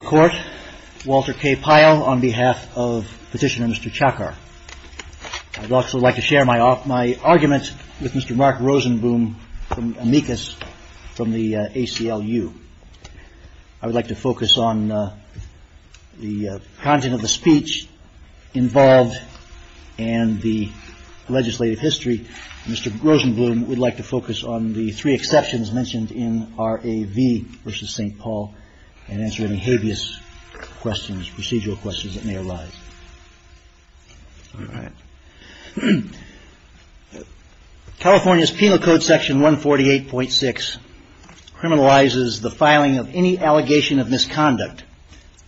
Court, Walter K. Pyle on behalf of Petitioner Mr. Chakar. I'd also like to share my argument with Mr. Mark Rosenblum from amicus from the ACLU. I would like to focus on the content of the speech involved and the legislative history. Mr. Rosenblum would like to focus on the three exceptions mentioned in R.A.V. v. St. Paul and answer any hideous questions, procedural questions that may arise. California's penal code section 148.6 criminalizes the filing of any allegation of misconduct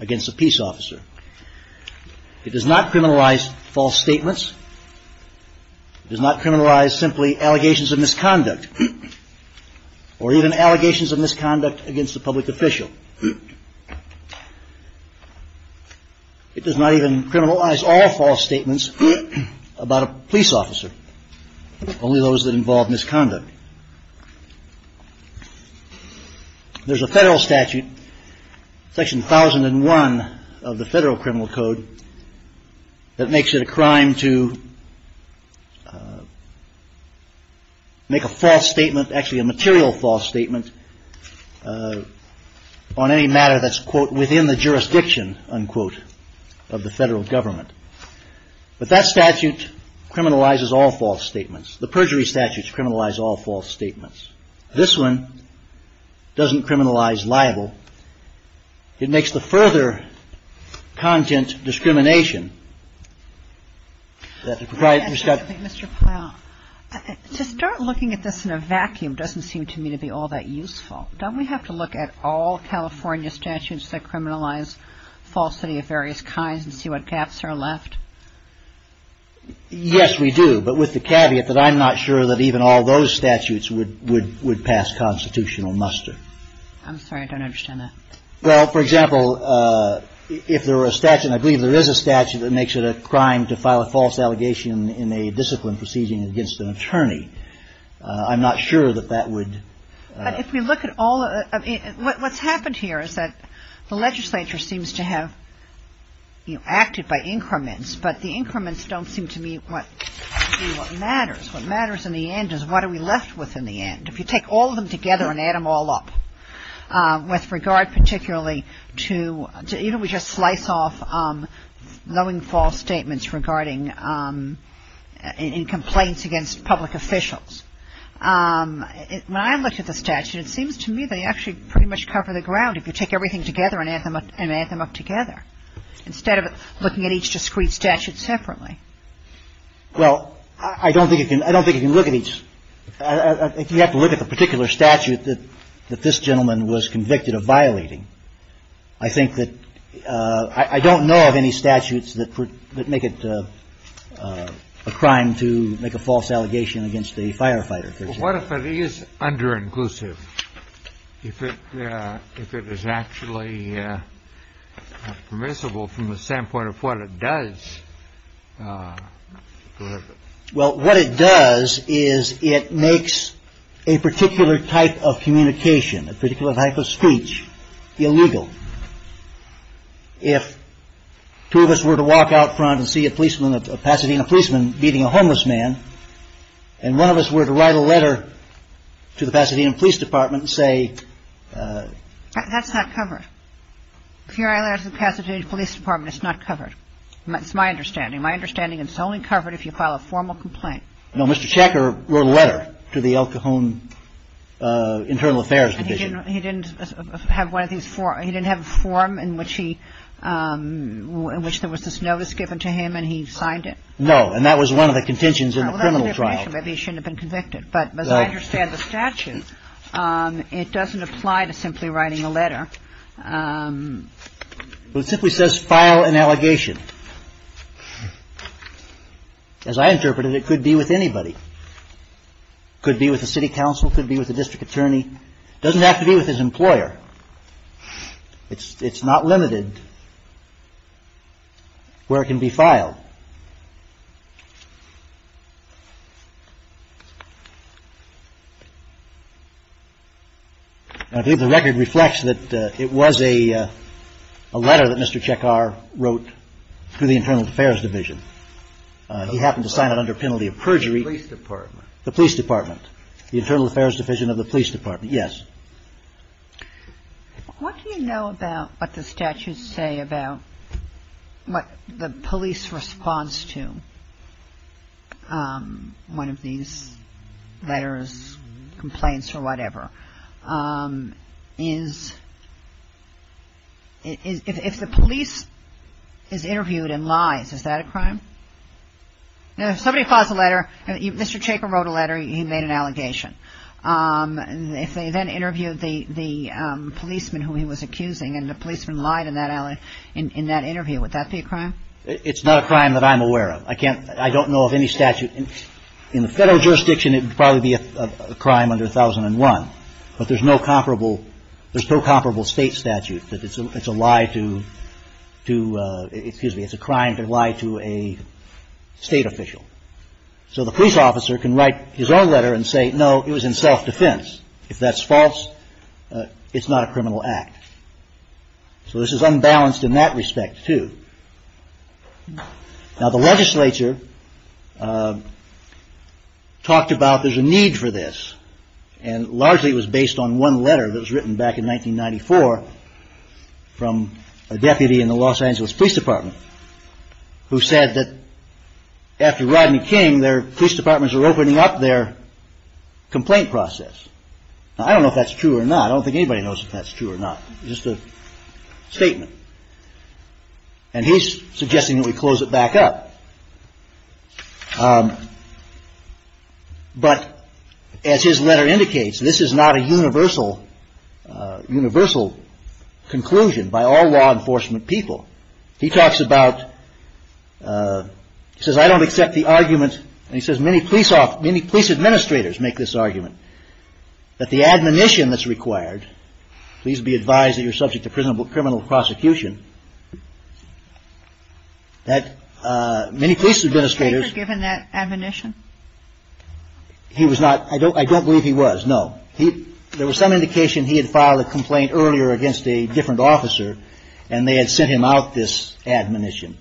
against a peace officer. It does not criminalize false or even allegations of misconduct against a public official. It does not even criminalize all false statements about a police officer, only those that involve misconduct. There's a federal statute, section 1001 of the federal criminal code, that makes it a crime to make a false statement, actually a material false statement, on any matter that's quote, within the jurisdiction, unquote, of the federal government. But that statute criminalizes all false statements. The perjury statutes criminalize all false statements. This one doesn't criminalize all false statements. It doesn't make it liable. It makes the further content discrimination. To start looking at this in a vacuum doesn't seem to me to be all that useful. Don't we have to look at all California statutes that criminalize falsity of various kinds and see what gaps are left? Yes, we do, but with the caveat that I'm not sure that even all those statutes would pass constitutional muster. I'm sorry, I don't understand that. Well, for example, if there were a statute, and I believe there is a statute, that makes it a crime to file a false allegation in a disciplined proceeding against an attorney. I'm not sure that that would... If we look at all, what's happened here is that the legislature seems to have acted by increments, but the increments don't seem to be what matters. What matters in the end is what are we left with in the end. If you take all of them together and add them all up, with regard particularly to, you know, we just slice off knowing false statements regarding, in complaints against public officials. When I look at the statute, it seems to me they actually pretty much cover the ground if you take everything together and add them up together, instead of looking at each discrete statute separately. Well, I don't think you can look at each... If you have to look at the particular statute that this gentleman was convicted of violating, I think that... I don't know of any statutes that make it a crime to make a false allegation against a firefighter. What if it is under-inclusive? If it is actually permissible from the standpoint of what it does? Well, what it does is it makes a particular type of communication, a particular type of speech, illegal. If two of us were to walk out front and see a policeman, a Pasadena policeman beating a homeless man, and one of us were to write a letter to the Pasadena Police Department and say... That's not covered. If you write a letter to the Pasadena Police Department, it's not covered. That's my understanding. My understanding is it's only covered if you file a formal complaint. No, Mr. Checker wrote a letter to the El Cajon Internal Affairs Division. He didn't have a form in which there was this notice given to him and he signed it? No, and that was one of the contentions in the criminal trial. Well, that's different. He shouldn't have been convicted. But as I understand the statute, it doesn't apply to simply writing a letter. It simply says file an allegation. As I interpreted, it could be with anybody. It could be with the city council. It could be with the district attorney. It doesn't have to be with his employer. It's not limited where it can be filed. I believe the record reflects that it was a letter that Mr. Checker wrote to the Internal Affairs Division. He happened to sign it under a penalty of perjury. The police department. The police department. The Internal Affairs Division of the police department, yes. What do you know about what the statutes say about what the police response to one of these letters, complaints or whatever? If the police is interviewed and lies, is that a crime? If somebody files a letter, Mr. Checker wrote a letter, he made an allegation. If they then interviewed the policeman who he was accusing and the policeman lied in that interview, would that be a crime? It's not a crime that I'm aware of. I don't know of any statute. In the federal jurisdiction, it would probably be a crime under 1001. But there's no comparable state statute. It's a crime to lie to a state official. So the police officer can write his own letter and say, no, it was in self-defense. If that's false, it's not a criminal act. So this is unbalanced in that respect, too. Now the legislature talked about there's a need for this. And largely it was based on one letter that was written back in 1994 from a deputy in the Los Angeles Police Department. Who said that after Rodney King, their police departments were opening up their complaint process. I don't know if that's true or not. I don't think anybody knows if that's true or not. It's just a statement. And he's suggesting that we close it back up. But as his letter indicates, this is not a universal conclusion by all law enforcement people. He talks about, he says, I don't accept the argument. And he says many police administrators make this argument. That the admonition that's required, please be advised that you're subject to criminal prosecution. That many police administrators. Was he given that admonition? He was not, I don't believe he was, no. There was some indication he had filed a complaint earlier against a different officer. And they had sent him out this admonition.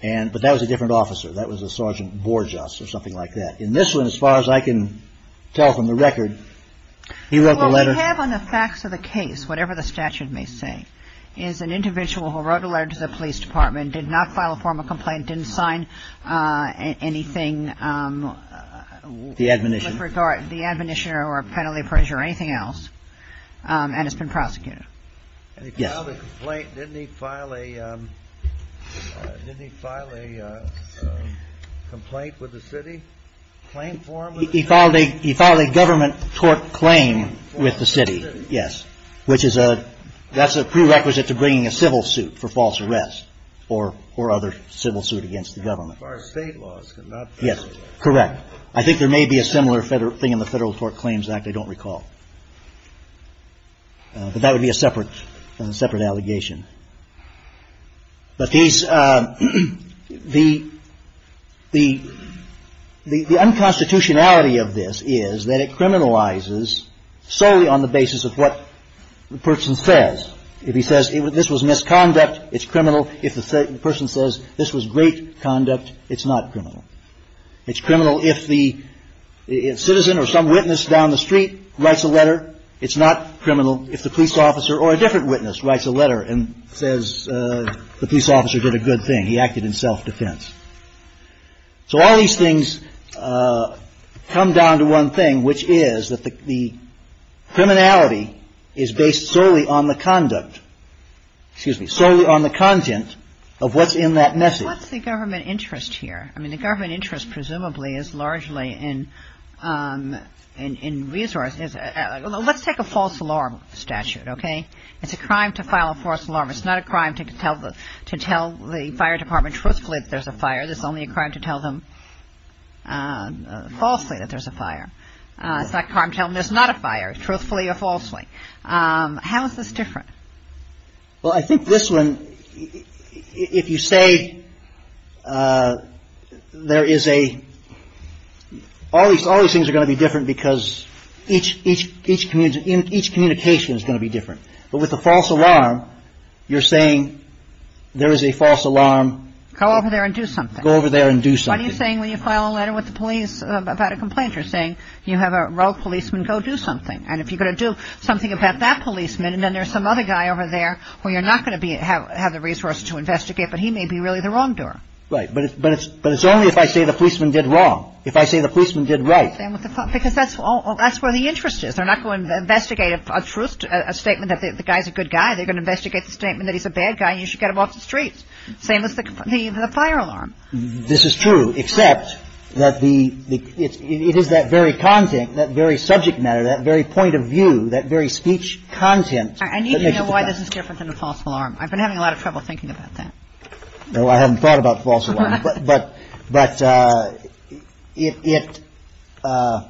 But that was a different officer. That was a Sergeant Borjas or something like that. In this one, as far as I can tell from the record, he wrote the letter. Well, we have on the facts of the case, whatever the statute may say, is an individual who wrote a letter to the police department, did not file a formal complaint, didn't sign anything. The admonition. The admonition or penalty appraisal or anything else. And has been prosecuted. Yes. He filed a complaint, didn't he file a complaint with the city? Claim form? He filed a government tort claim with the city, yes. Which is a, that's a prerequisite to bringing a civil suit for false arrest. Or other civil suit against the government. As far as state laws. Yes, correct. I think there may be a similar thing in the Federal Tort Claims Act, I don't recall. But that would be a separate allegation. But these, the unconstitutionality of this is that it criminalizes solely on the basis of what the person says. If he says this was misconduct, it's criminal. If the person says this was great conduct, it's not criminal. It's criminal if the citizen or some witness down the street writes a letter. It's not criminal if the police officer or a different witness writes a letter and says the police officer did a good thing. He acted in self-defense. So all these things come down to one thing, which is that the criminality is based solely on the conduct. Excuse me, solely on the content of what's in that message. What's the government interest here? I mean, the government interest presumably is largely in resources. Let's take a false alarm statute, okay? It's a crime to file a false alarm. It's not a crime to tell the fire department truthfully that there's a fire. It's only a crime to tell them falsely that there's a fire. It's not a crime to tell them there's not a fire, truthfully or falsely. How is this different? Well, I think this one, if you say there is a – all these things are going to be different because each communication is going to be different. But with a false alarm, you're saying there is a false alarm. Go over there and do something. Go over there and do something. What are you saying when you file a letter with the police about a complaint? You're saying you have a rogue policeman, go do something. And if you're going to do something about that policeman, and then there's some other guy over there where you're not going to have the resources to investigate, but he may be really the wrongdoer. Right, but it's only if I say the policeman did wrong. If I say the policeman did right. Because that's where the interest is. They're not going to investigate a statement that the guy's a good guy. They're going to investigate the statement that he's a bad guy and you should get him off the streets. Same as the fire alarm. This is true, except that the – it is that very content, that very subject matter, that very point of view, that very speech content. I need to know why this is different than a false alarm. I've been having a lot of trouble thinking about that. No, I haven't thought about false alarms. But it – Well,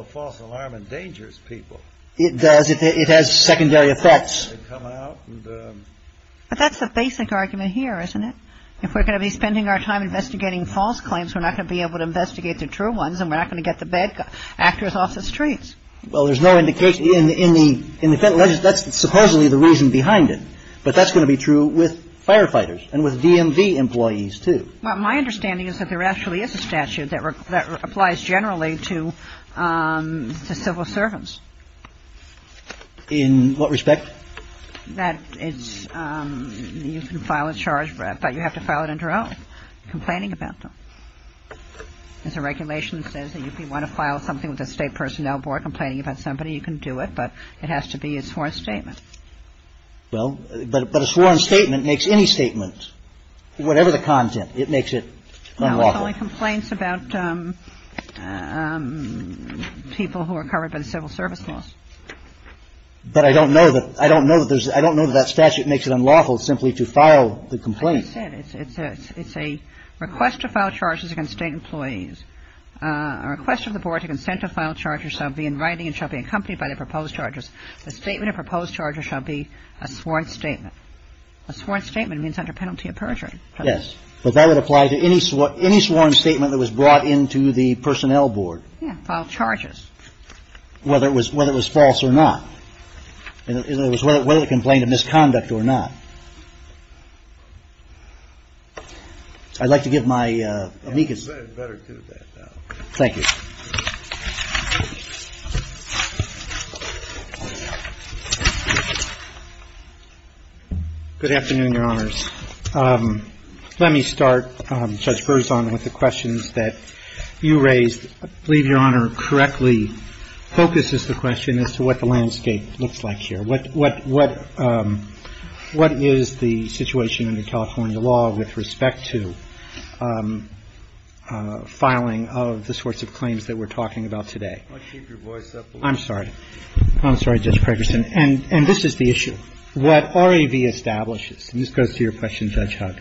a false alarm endangers people. It does. It has secondary effects. It can come out and – But that's the basic argument here, isn't it? If we're going to be spending our time investigating false claims, we're not going to be able to investigate the true ones, and we're not going to get the bad actors off the streets. Well, there's no indication – in the Federal Register, that's supposedly the reason behind it. But that's going to be true with firefighters and with DMV employees, too. Well, my understanding is that there actually is a statute that applies generally to civil servants. In what respect? That it's – you can file a charge, but you have to file it in droves, complaining about them. There's a regulation that says that if you want to file something with the State Personnel Board, complaining about somebody, you can do it, but it has to be a sworn statement. Well, but a sworn statement makes any statement, whatever the content, it makes it unlawful. It only complains about people who are covered by the Civil Service Law. But I don't know that there's – I don't know that that statute makes it unlawful simply to file the complaint. As I said, it's a request to file charges against State employees. A request of the Board to consent to file charges shall be in writing and shall be accompanied by the proposed charges. The statement of proposed charges shall be a sworn statement. A sworn statement means under penalty of perjury. Yes, but that would apply to any sworn statement that was brought into the Personnel Board. Yeah, filed charges. Whether it was false or not. Whether it complained of misconduct or not. I'd like to give my amicus. You better do that. Thank you. Good afternoon, Your Honors. Let me start, Judge Berzon, with the questions that you raised. I believe Your Honor correctly focuses the question as to what the landscape looks like here. What is the situation under California law with respect to filing of the sorts of claims that we're talking about today? I'll keep your voice up a little bit. I'm sorry. I'm sorry, Judge Pregerson. And this is the issue. What RAV establishes, and this goes to your question, Judge Huck.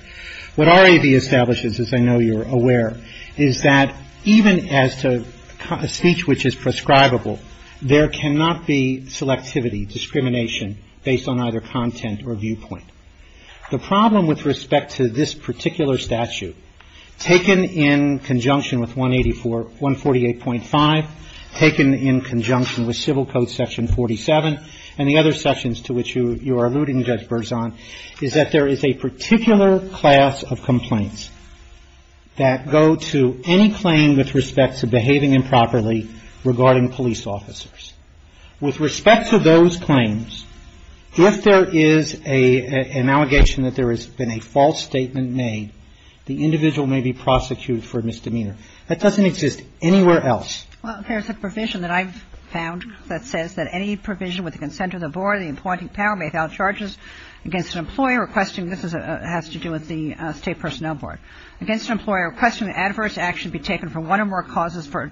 What RAV establishes, as I know you're aware, is that even as to speech which is prescribable, there cannot be selectivity, discrimination based on either content or viewpoint. The problem with respect to this particular statute, taken in conjunction with 184, 148.5, taken in conjunction with Civil Code Section 47 and the other sections to which you are alluding, Judge Berzon, is that there is a particular class of complaints that go to any claim with respect to behaving improperly regarding police officers. With respect to those claims, if there is an allegation that there has been a false statement made, the individual may be prosecuted for misdemeanor. That doesn't exist anywhere else. Well, there's a provision that I've found that says that any provision with the consent of the board, the appointing power may file charges against an employer requesting, this has to do with the State Personnel Board, against an employer requesting adverse action be taken for one or more causes for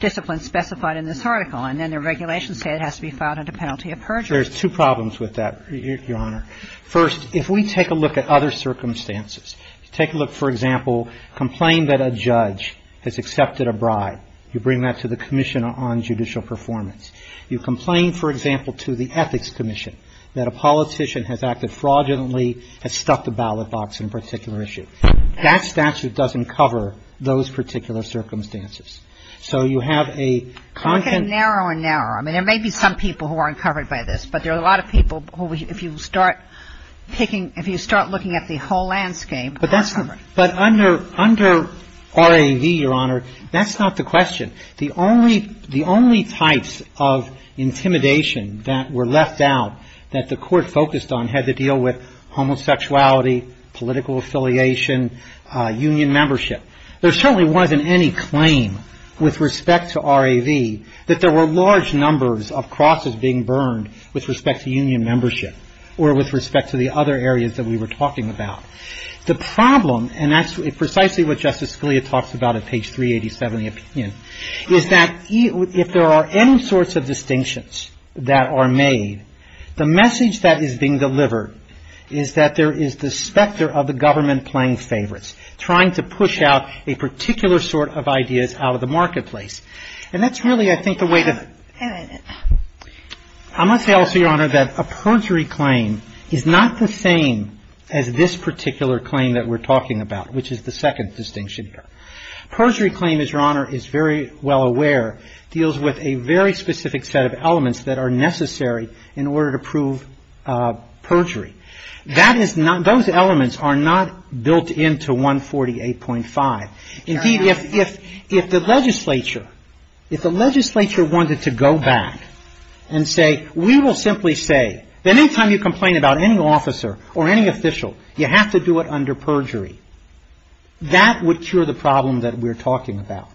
discipline specified in this article. And then the regulations say it has to be filed under penalty of perjury. There's two problems with that, Your Honor. First, if we take a look at other circumstances. Take a look, for example, complain that a judge has accepted a bribe. You bring that to the Commission on Judicial Performance. You complain, for example, to the Ethics Commission that a politician has acted fraudulently, has stuffed a ballot box in a particular issue. That statute doesn't cover those particular circumstances. So you have a... I'm getting narrower and narrower. I mean, there may be some people who aren't covered by this, but there are a lot of people who, if you start taking, if you start looking at the whole landscape... But under RAV, Your Honor, that's not the question. The only types of intimidation that were left out that the court focused on had to deal with homosexuality, political affiliation, union membership. There certainly wasn't any claim with respect to RAV that there were large numbers of crosses being burned with respect to union membership or with respect to the other areas that we were talking about. The problem, and that's precisely what Justice Scalia talks about on page 387 of the opinion, is that if there are any sorts of distinctions that are made, the message that is being delivered is that there is the specter of the government playing favorites, trying to push out a particular sort of ideas out of the marketplace. And that's really, I think, a way to... I'm going to tell you, Your Honor, that a perjury claim is not the same as this particular claim that we're talking about, which is the second distinction here. A perjury claim, as Your Honor is very well aware, deals with a very specific set of elements that are necessary in order to prove perjury. Those elements are not built into 148.5. Indeed, if the legislature wanted to go back and say, we will simply say, any time you complain about any officer or any official, you have to do it under perjury, that would cure the problem that we're talking about.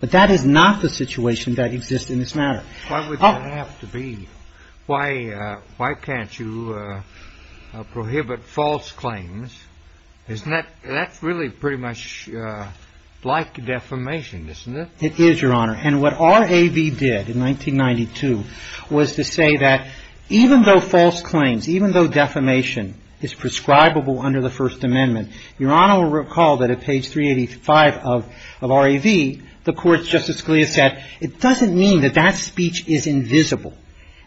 But that is not the situation that exists in this matter. Why would that have to be? Why can't you prohibit false claims? Isn't that really pretty much like defamation, isn't it? It is, Your Honor. And what R.A.V. did in 1992 was to say that even though false claims, even though defamation is prescribable under the First Amendment, Your Honor will recall that at page 385 of R.A.V., the court's Justice Scalia said, it doesn't mean that that speech is invisible.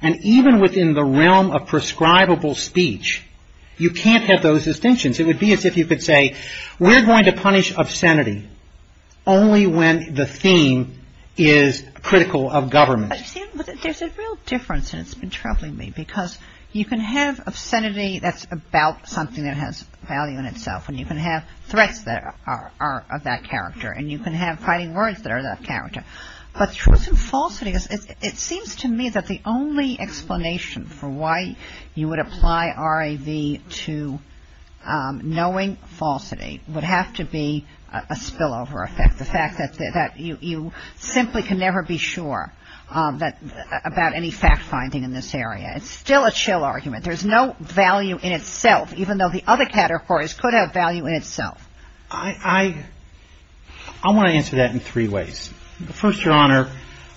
And even within the realm of prescribable speech, you can't have those distinctions. It would be as if you could say, we're going to punish obscenity only when the theme is critical of government. There's a real difference that's been troubling me, because you can have obscenity that's about something that has value in itself, and you can have threats that are of that character, But truth and falsity, it seems to me that the only explanation for why you would apply R.A.V. to knowing falsity would have to be a spillover effect, the fact that you simply can never be sure about any fact-finding in this area. It's still a chill argument. There's no value in itself, even though the other categories could have value in itself. I want to answer that in three ways. First, Your Honor,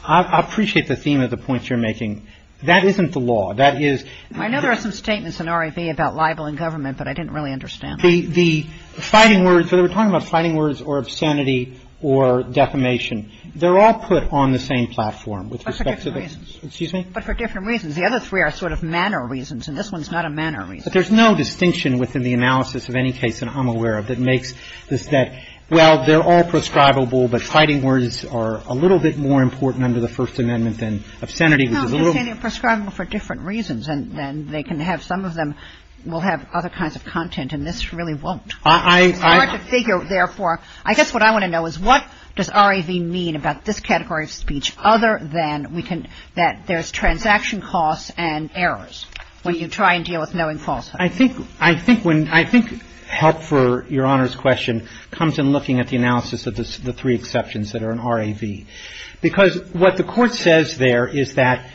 I appreciate the theme of the points you're making. That isn't the law. I know there are some statements in R.A.V. about libel in government, but I didn't really understand. The fighting words, whether we're talking about fighting words or obscenity or defamation, they're all put on the same platform. But for different reasons. Excuse me? But for different reasons. The other three are sort of manner reasons, and this one's not a manner reason. But there's no distinction within the analysis of any case that I'm aware of that makes that, well, they're all prescribable, but fighting words are a little bit more important under the First Amendment than obscenity, which is a little... Well, obscenity is prescribable for different reasons, and they can have, some of them will have other kinds of content, and this really won't. I have to figure, therefore, I guess what I want to know is what does R.A.V. mean about this category of speech other than that there's transaction costs and errors when you try and deal with knowing falsehoods. I think help for Your Honor's question comes in looking at the analysis of the three exceptions that are in R.A.V. Because what the Court says there is that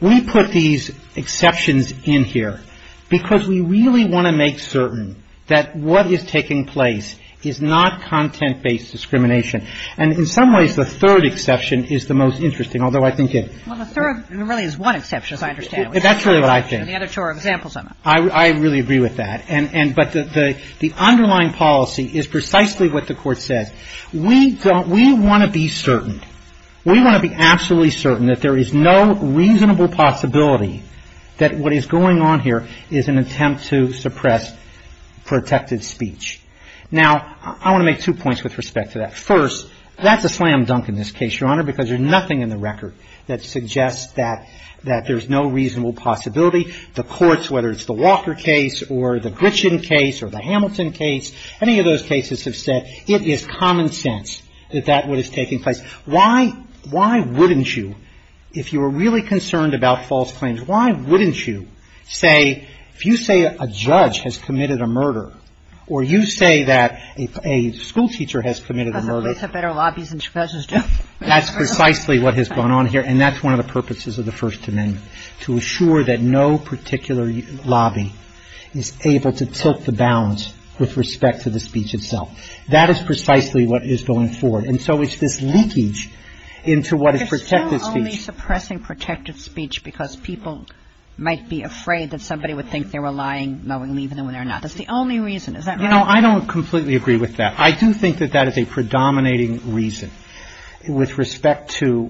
we put these exceptions in here because we really want to make certain that what is taking place is not content-based discrimination. And in some ways, the third exception is the most interesting, although I think it... Well, the third really is one exception, as I understand it. That's really what I think. And the other two are examples of it. I really agree with that. But the underlying policy is precisely what the Court said. We want to be certain. We want to be absolutely certain that there is no reasonable possibility that what is going on here is an attempt to suppress protected speech. Now, I want to make two points with respect to that. First, that's a slam dunk in this case, Your Honor, because there's nothing in the record that suggests that there's no reasonable possibility. The courts, whether it's the Walker case or the Glitchin case or the Hamilton case, any of those cases have said it is common sense that that is what is taking place. Why wouldn't you, if you were really concerned about false claims, why wouldn't you say, if you say a judge has committed a murder or you say that a schoolteacher has committed a murder... That's precisely what has gone on here. And that's one of the purposes of the First Amendment, to assure that no particular lobby is able to tilt the bounds with respect to the speech itself. That is precisely what is going forward. And so it's this leakage into what is protected speech. Because people might be afraid that somebody would think they were lying knowingly, even when they're not. That's the only reason. Is that right? No, I don't completely agree with that. I do think that that is a predominating reason with respect to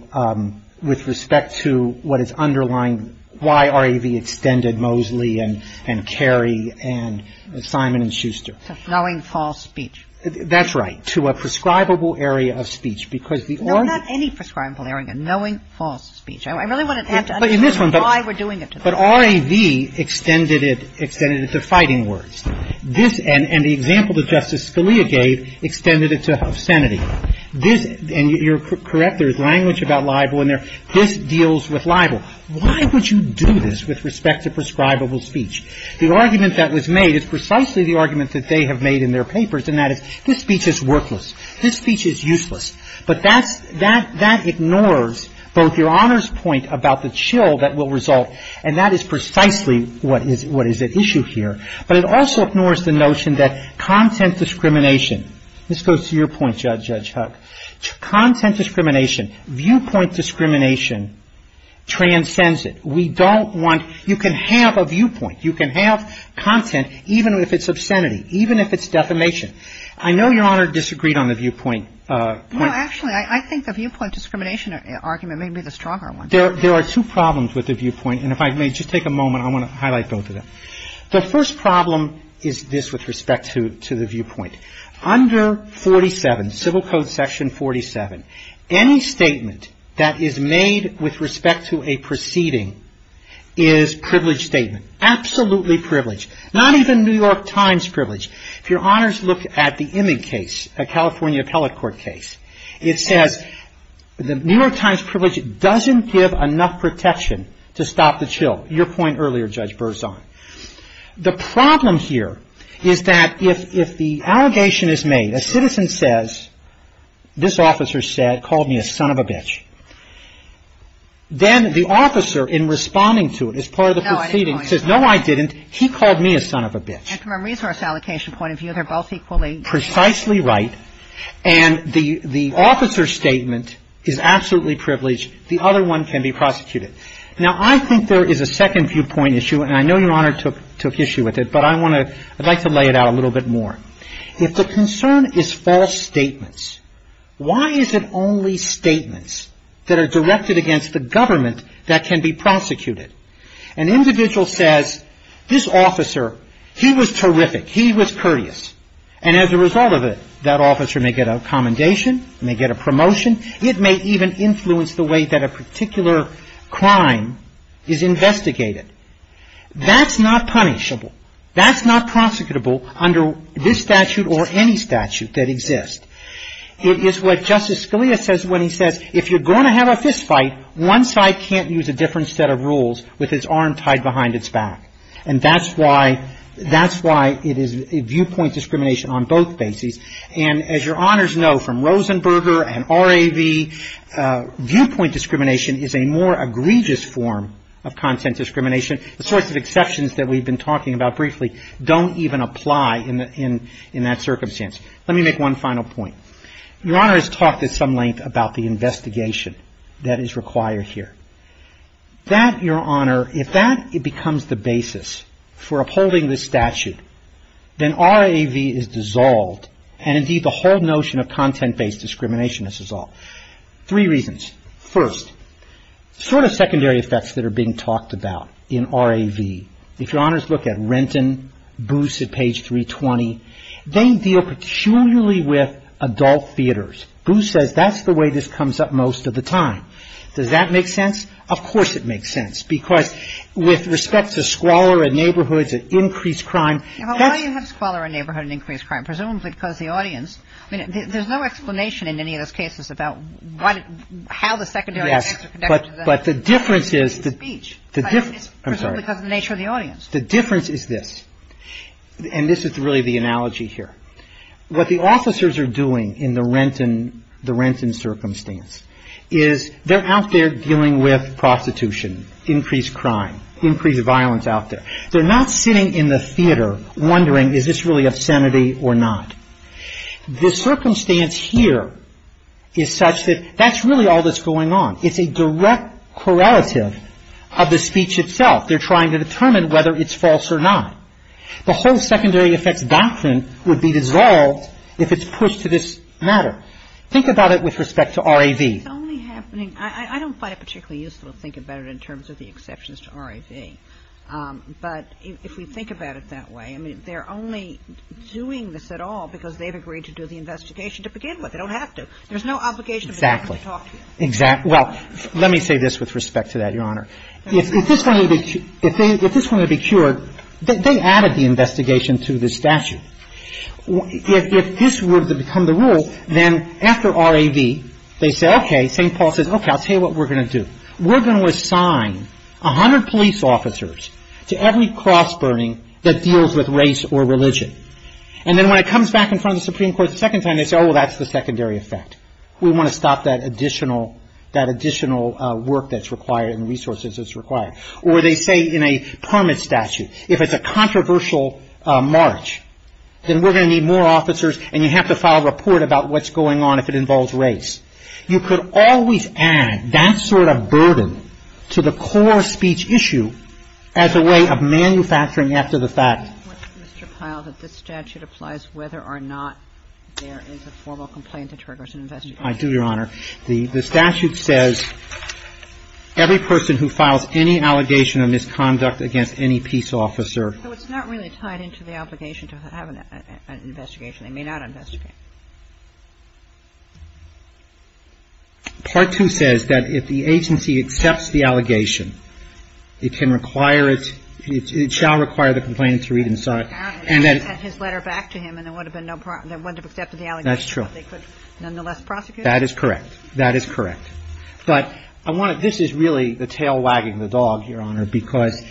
what is underlying why R.A.V. extended Moseley and Carey and Simon and Schuster. Knowing false speech. That's right. To a prescribable area of speech. There's not any prescribable area. Knowing false speech. I really want to have to understand why we're doing it to them. But R.A.V. extended it to fighting words. And the example that Justice Scalia gave extended it to obscenity. And you're correct, there's language about libel in there. This deals with libel. Why would you do this with respect to prescribable speech? The argument that was made is precisely the argument that they have made in their papers in that this speech is worthless. This speech is useless. But that ignores both your Honor's point about the chill that will result and that is precisely what is at issue here. But it also ignores the notion that content discrimination this goes to your point, Judge Huck content discrimination, viewpoint discrimination transcends it. We don't want you can have a viewpoint. You can have content even if it's obscenity. Even if it's defamation. I know your Honor disagreed on the viewpoint. Well, actually, I think the viewpoint discrimination argument may be the stronger one. There are two problems with the viewpoint. And if I may just take a moment, I want to highlight both of them. The first problem is this with respect to the viewpoint. Under 47, Civil Code section 47, any statement that is made with respect to a proceeding is privileged statement. Absolutely privileged. Not even New York Times privileged. If your Honor looks at the image case, the California appellate court case, it says the New York Times privilege doesn't give enough protection to stop the chill. Your point earlier, Judge Berzon. The problem here is that if the allegation is made, a citizen says, this officer said, called me a son of a bitch. Then the officer in responding to it as part of the proceeding says, no, I didn't. He called me a son of a bitch. And from a resource allocation point of view, they're both equally. Precisely right. And the officer's statement is absolutely privileged. The other one can be prosecuted. Now, I think there is a second viewpoint issue, and I know your Honor took issue with it, but I want to, I'd like to lay it out a little bit more. If the concern is false statements, why is it only statements that are directed against the government that can be prosecuted? An individual says, this officer, he was terrific. He was courteous. And as a result of it, that officer may get a commendation, may get a promotion. It may even influence the way that a particular crime is investigated. That's not punishable. That's not prosecutable under this statute or any statute that exists. It is what Justice Scalia says when he said, if you're going to have a fist fight, one side can't use a different set of rules with its arm tied behind its back. And that's why it is viewpoint discrimination on both bases. And as your Honors know from Rosenberger and R.A.V., viewpoint discrimination is a more egregious form of content discrimination. The sorts of exceptions that we've been talking about briefly don't even apply in that circumstance. Let me make one final point. Your Honors talked at some length about the investigation that is required here. That, your Honor, if that becomes the basis for upholding the statute, then R.A.V. is dissolved and indeed the whole notion of content-based discrimination is dissolved. Three reasons. First, sort of secondary effects that are being talked about in R.A.V. If your Honors look at Renton, Booth at page 320, they deal peculiarly with adult theaters. Booth says that's the way this comes up most of the time. Does that make sense? Of course it makes sense. Because with respect to squalor in neighborhoods and increased crime... Why do you have squalor in neighborhoods and increased crime? Presumably because the audience... There's no explanation in any of those cases about how the secondary effects are connected... But the difference is... The nature of the audience. The difference is this. And this is really the analogy here. What the officers are doing in the Renton circumstance is they're out there dealing with prostitution, increased crime, increased violence out there. They're not sitting in the theater wondering is this really obscenity or not. The circumstance here is such that that's really all that's going on. It's a direct correlative of the speech itself. They're trying to determine whether it's false or not. The whole secondary effect doctrine would be dissolved if it's pushed to this matter. Think about it with respect to R.A.V. It's only happening... I don't find it particularly useful to think about it in terms of the exceptions to R.A.V. But if we think about it that way... I mean, they're only doing this at all because they've agreed to do the investigation to begin with. They don't have to. Exactly. Well, let me say this with respect to that, Your Honor. If this were to be cured, they added the investigation to the statute. If this were to become the rule, then after R.A.V., they say, okay, St. Paul says, okay, I'll tell you what we're going to do. We're going to assign 100 police officers to every cross burning that deals with race or religion. And then when it comes back in front of the Supreme Court the second time, they say, oh, that's the secondary effect. We want to stop that additional work that's required and resources that's required. Or they say in a permit statute, if it's a controversial march, then we're going to need more officers and you have to file a report about what's going on if it involves race. You could always add that sort of burden to the core speech issue as a way of manufacturing after the fact. Mr. Pyle, that this statute applies whether or not there is a formal complaint that triggers an investigation. I do, Your Honor. The statute says every person who files any allegation of misconduct against any peace officer. So it's not really tied into the obligation to have an investigation. They may not investigate. Part 2 says that if the agency accepts the allegation, it can require, it shall require the complaint to read and sign. And then. Had his letter back to him and there would have been no problem, there would have been no problem to accept the allegation. That's true. They could nonetheless prosecute him. That is correct. That is correct. But I want to, this is really the tail wagging the dog, Your Honor, because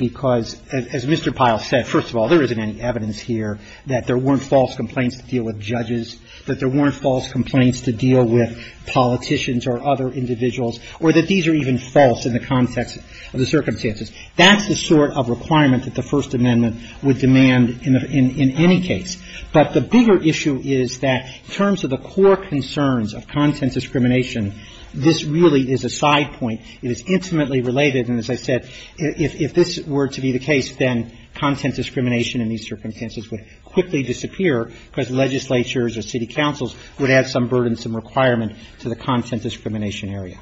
as Mr. Pyle said, first of all, there isn't any evidence here that there weren't false complaints to deal with judges, that there weren't false complaints to deal with politicians or other individuals, or that these are even false in the context of the circumstances. That's the sort of requirement that the First Amendment would demand in any case. But the bigger issue is that in terms of the core concerns of content discrimination, this really is a side point. It is intimately related. And as I said, if this were to be the case, then content discrimination in these circumstances would quickly disappear because legislatures or city councils would add some burdensome requirement to the content discrimination area.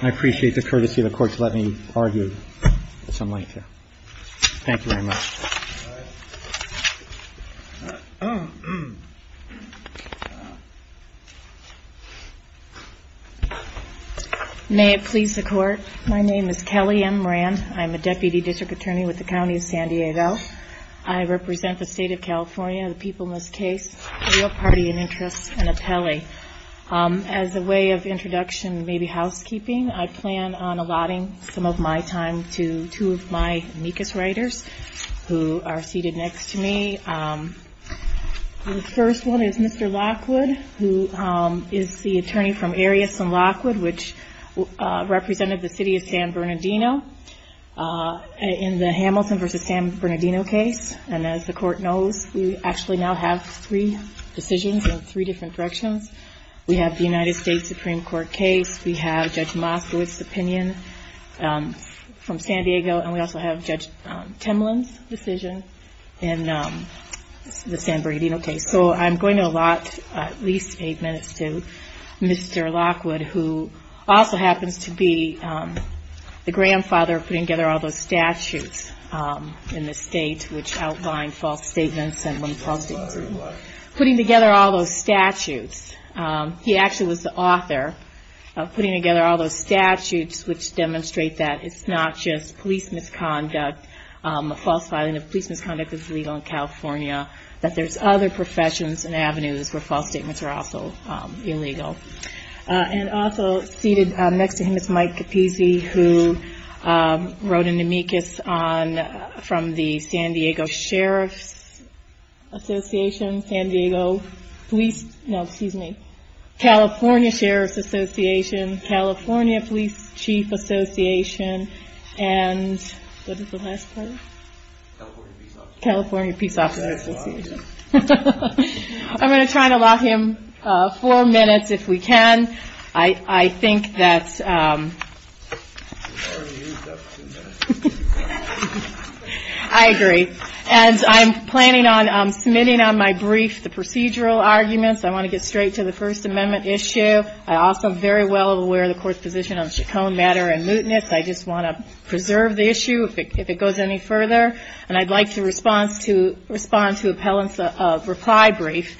And I appreciate the courtesy of the Court to let me argue with something like that. Thank you very much. All right. May it please the Court, my name is Kelly M. Moran. I'm a Deputy District Attorney with the County of San Diego. I represent the State of California, the people in this case, a real party of interest, an appellee. As a way of introduction and maybe housekeeping, I plan on allotting some of my time to two of my weakest writers, who are seated next to me. The first one is Mr. Lockwood, who is the attorney from areas in Lockwood, which represented the City of San Bernardino in the Hamilton v. San Bernardino case. And as the Court knows, we actually now have three decisions in three different directions. We have the United States Supreme Court case. We have Judge Lockwood's opinion from San Diego. And we also have Judge Kemlin's decision in the San Bernardino case. So, I'm going to allot at least eight minutes to Mr. Lockwood, who also happens to be the grandfather of putting together all those statutes in the State, which outlined false statements and... putting together all those statutes. He actually was the author of putting together all those statutes, which demonstrate that it's not just police misconduct, a false filing of police misconduct is illegal in California, that there's other professions and avenues for false statements are also illegal. And also seated next to him is Mike Capizzi, who wrote an amicus on... from the San Diego Sheriff's Association, San Diego Police... no, excuse me. California Sheriff's Association, California Police Chief Association, and... what is the last part? California Peace Officer. I'm going to try to allot him four minutes, if we can. I think that... I agree. And I'm planning on submitting on my brief the procedural arguments. I want to get straight to the First Amendment issue. I'm also very well aware of the Court's position on chaconne matter and mootness. I just want to preserve the issue, if it goes any further. And I'd like to respond to appellants' reply briefs,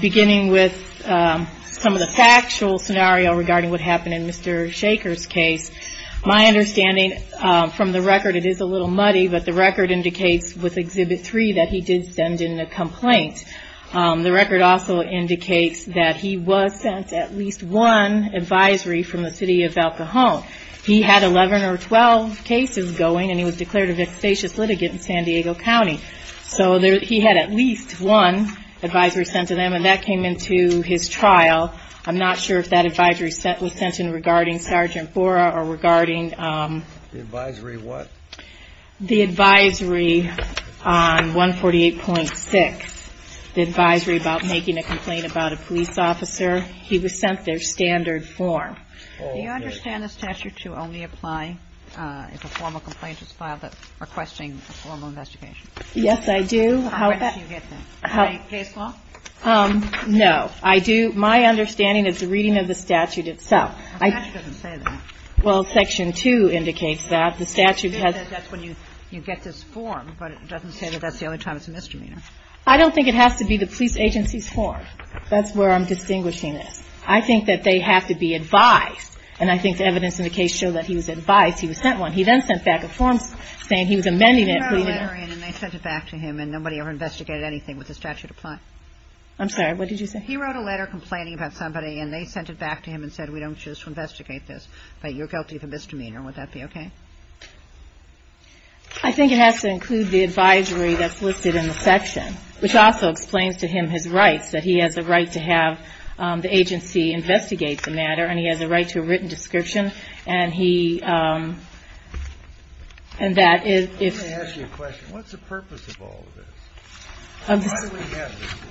beginning with some of the factual scenario regarding what happened in Mr. Shaker's case. My understanding from the record, it is a little muddy, but the record indicates with Exhibit 3 that he did send in a complaint. The record also indicates that he was sent at least one advisory from the city of El Cajon. He had 11 or 12 cases going, and he was declared a vexatious litigant in San Diego County. So he had at least one advisory sent to them, and that came into his trial. I'm not sure if that advisory was sent in regarding Sergeant Fora or regarding... The advisory of what? The advisory on 148.6. The advisory about making a complaint about a police officer. He was sent their standard form. Do you understand this statute to only apply if a formal complaint is filed that's requesting a formal investigation? Yes, I do. How did you get this? Are you faithful? No, I do. My understanding is the reading of the statute itself. The statute doesn't say that. Well, Section 2 indicates that. The statute has... It says that's when you get this form, but it doesn't say that that's the only time it's a misdemeanor. I don't think it has to be the police agency's form. That's where I'm distinguishing it. I think that they have to be advised, and I think the evidence in the case showed that he was advised. He was sent one. He then sent back a form saying he was amending it. He wrote a letter in, and they sent it back to him, and nobody ever investigated anything with the statute applied. I'm sorry. What did you say? He wrote a letter complaining about somebody, and they sent it back to him and said, We don't choose to investigate this, but you're guilty of a misdemeanor. Would that be okay? I think it has to include the advisory that's listed in the section, which also explains to him his rights, that he has the right to have the agency investigate the matter, and he has the right to a written description, and that is... Let me ask you a question. What's the purpose of all of this? Why do we have this law?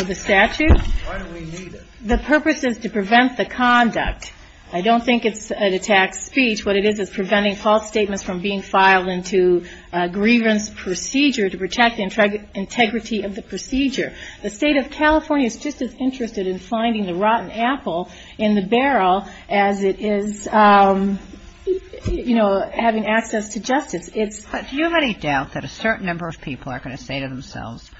Of the statute? Why do we need it? The purpose is to prevent the conduct. I don't think it's an attack speech. What it is is preventing false statements from being filed into a grievance procedure to protect the integrity of the procedure. The state of California is just as interested in finding the rotten apple in the barrel as it is, you know, having access to justice. Do you have any doubt that a certain number of people are going to say to themselves,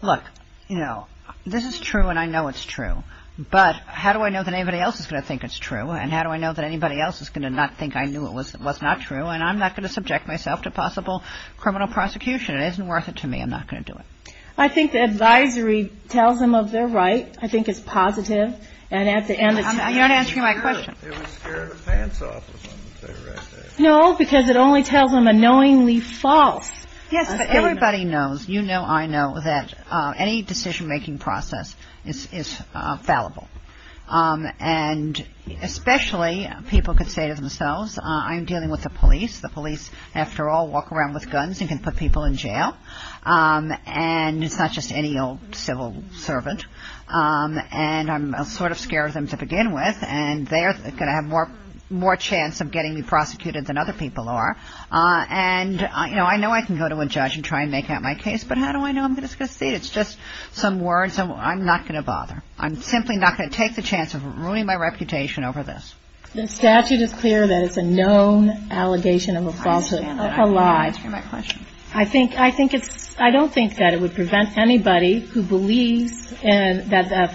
Look, you know, this is true, and I know it's true, but how do I know that anybody else is going to think it's true, and how do I know that anybody else is going to not think I knew it was not true, and I'm not going to subject myself to possible criminal prosecution. It isn't worth it to me. I'm not going to do it. I think the advisory tells them of their right. I think it's positive. You're not answering my question. No, because it only tells them a knowingly false statement. Yes, but everybody knows, you know, I know, that any decision-making process is fallible, and especially people can say to themselves, I'm dealing with the police. The police, after all, walk around with guns. You can put people in jail. And it's not just any old civil servant. And I'm sort of scared of them to begin with, and they're going to have more chance of getting you prosecuted than other people are. And, you know, I know I can go to a judge and try and make out my case, but how do I know I'm going to succeed? It's just some words, and I'm not going to bother. I'm simply not going to take the chance of ruining my reputation over this. The statute is clear that it's a known allegation of a falsehood. That's a lie. I'm not answering that question. I don't think that it would prevent anybody who believes that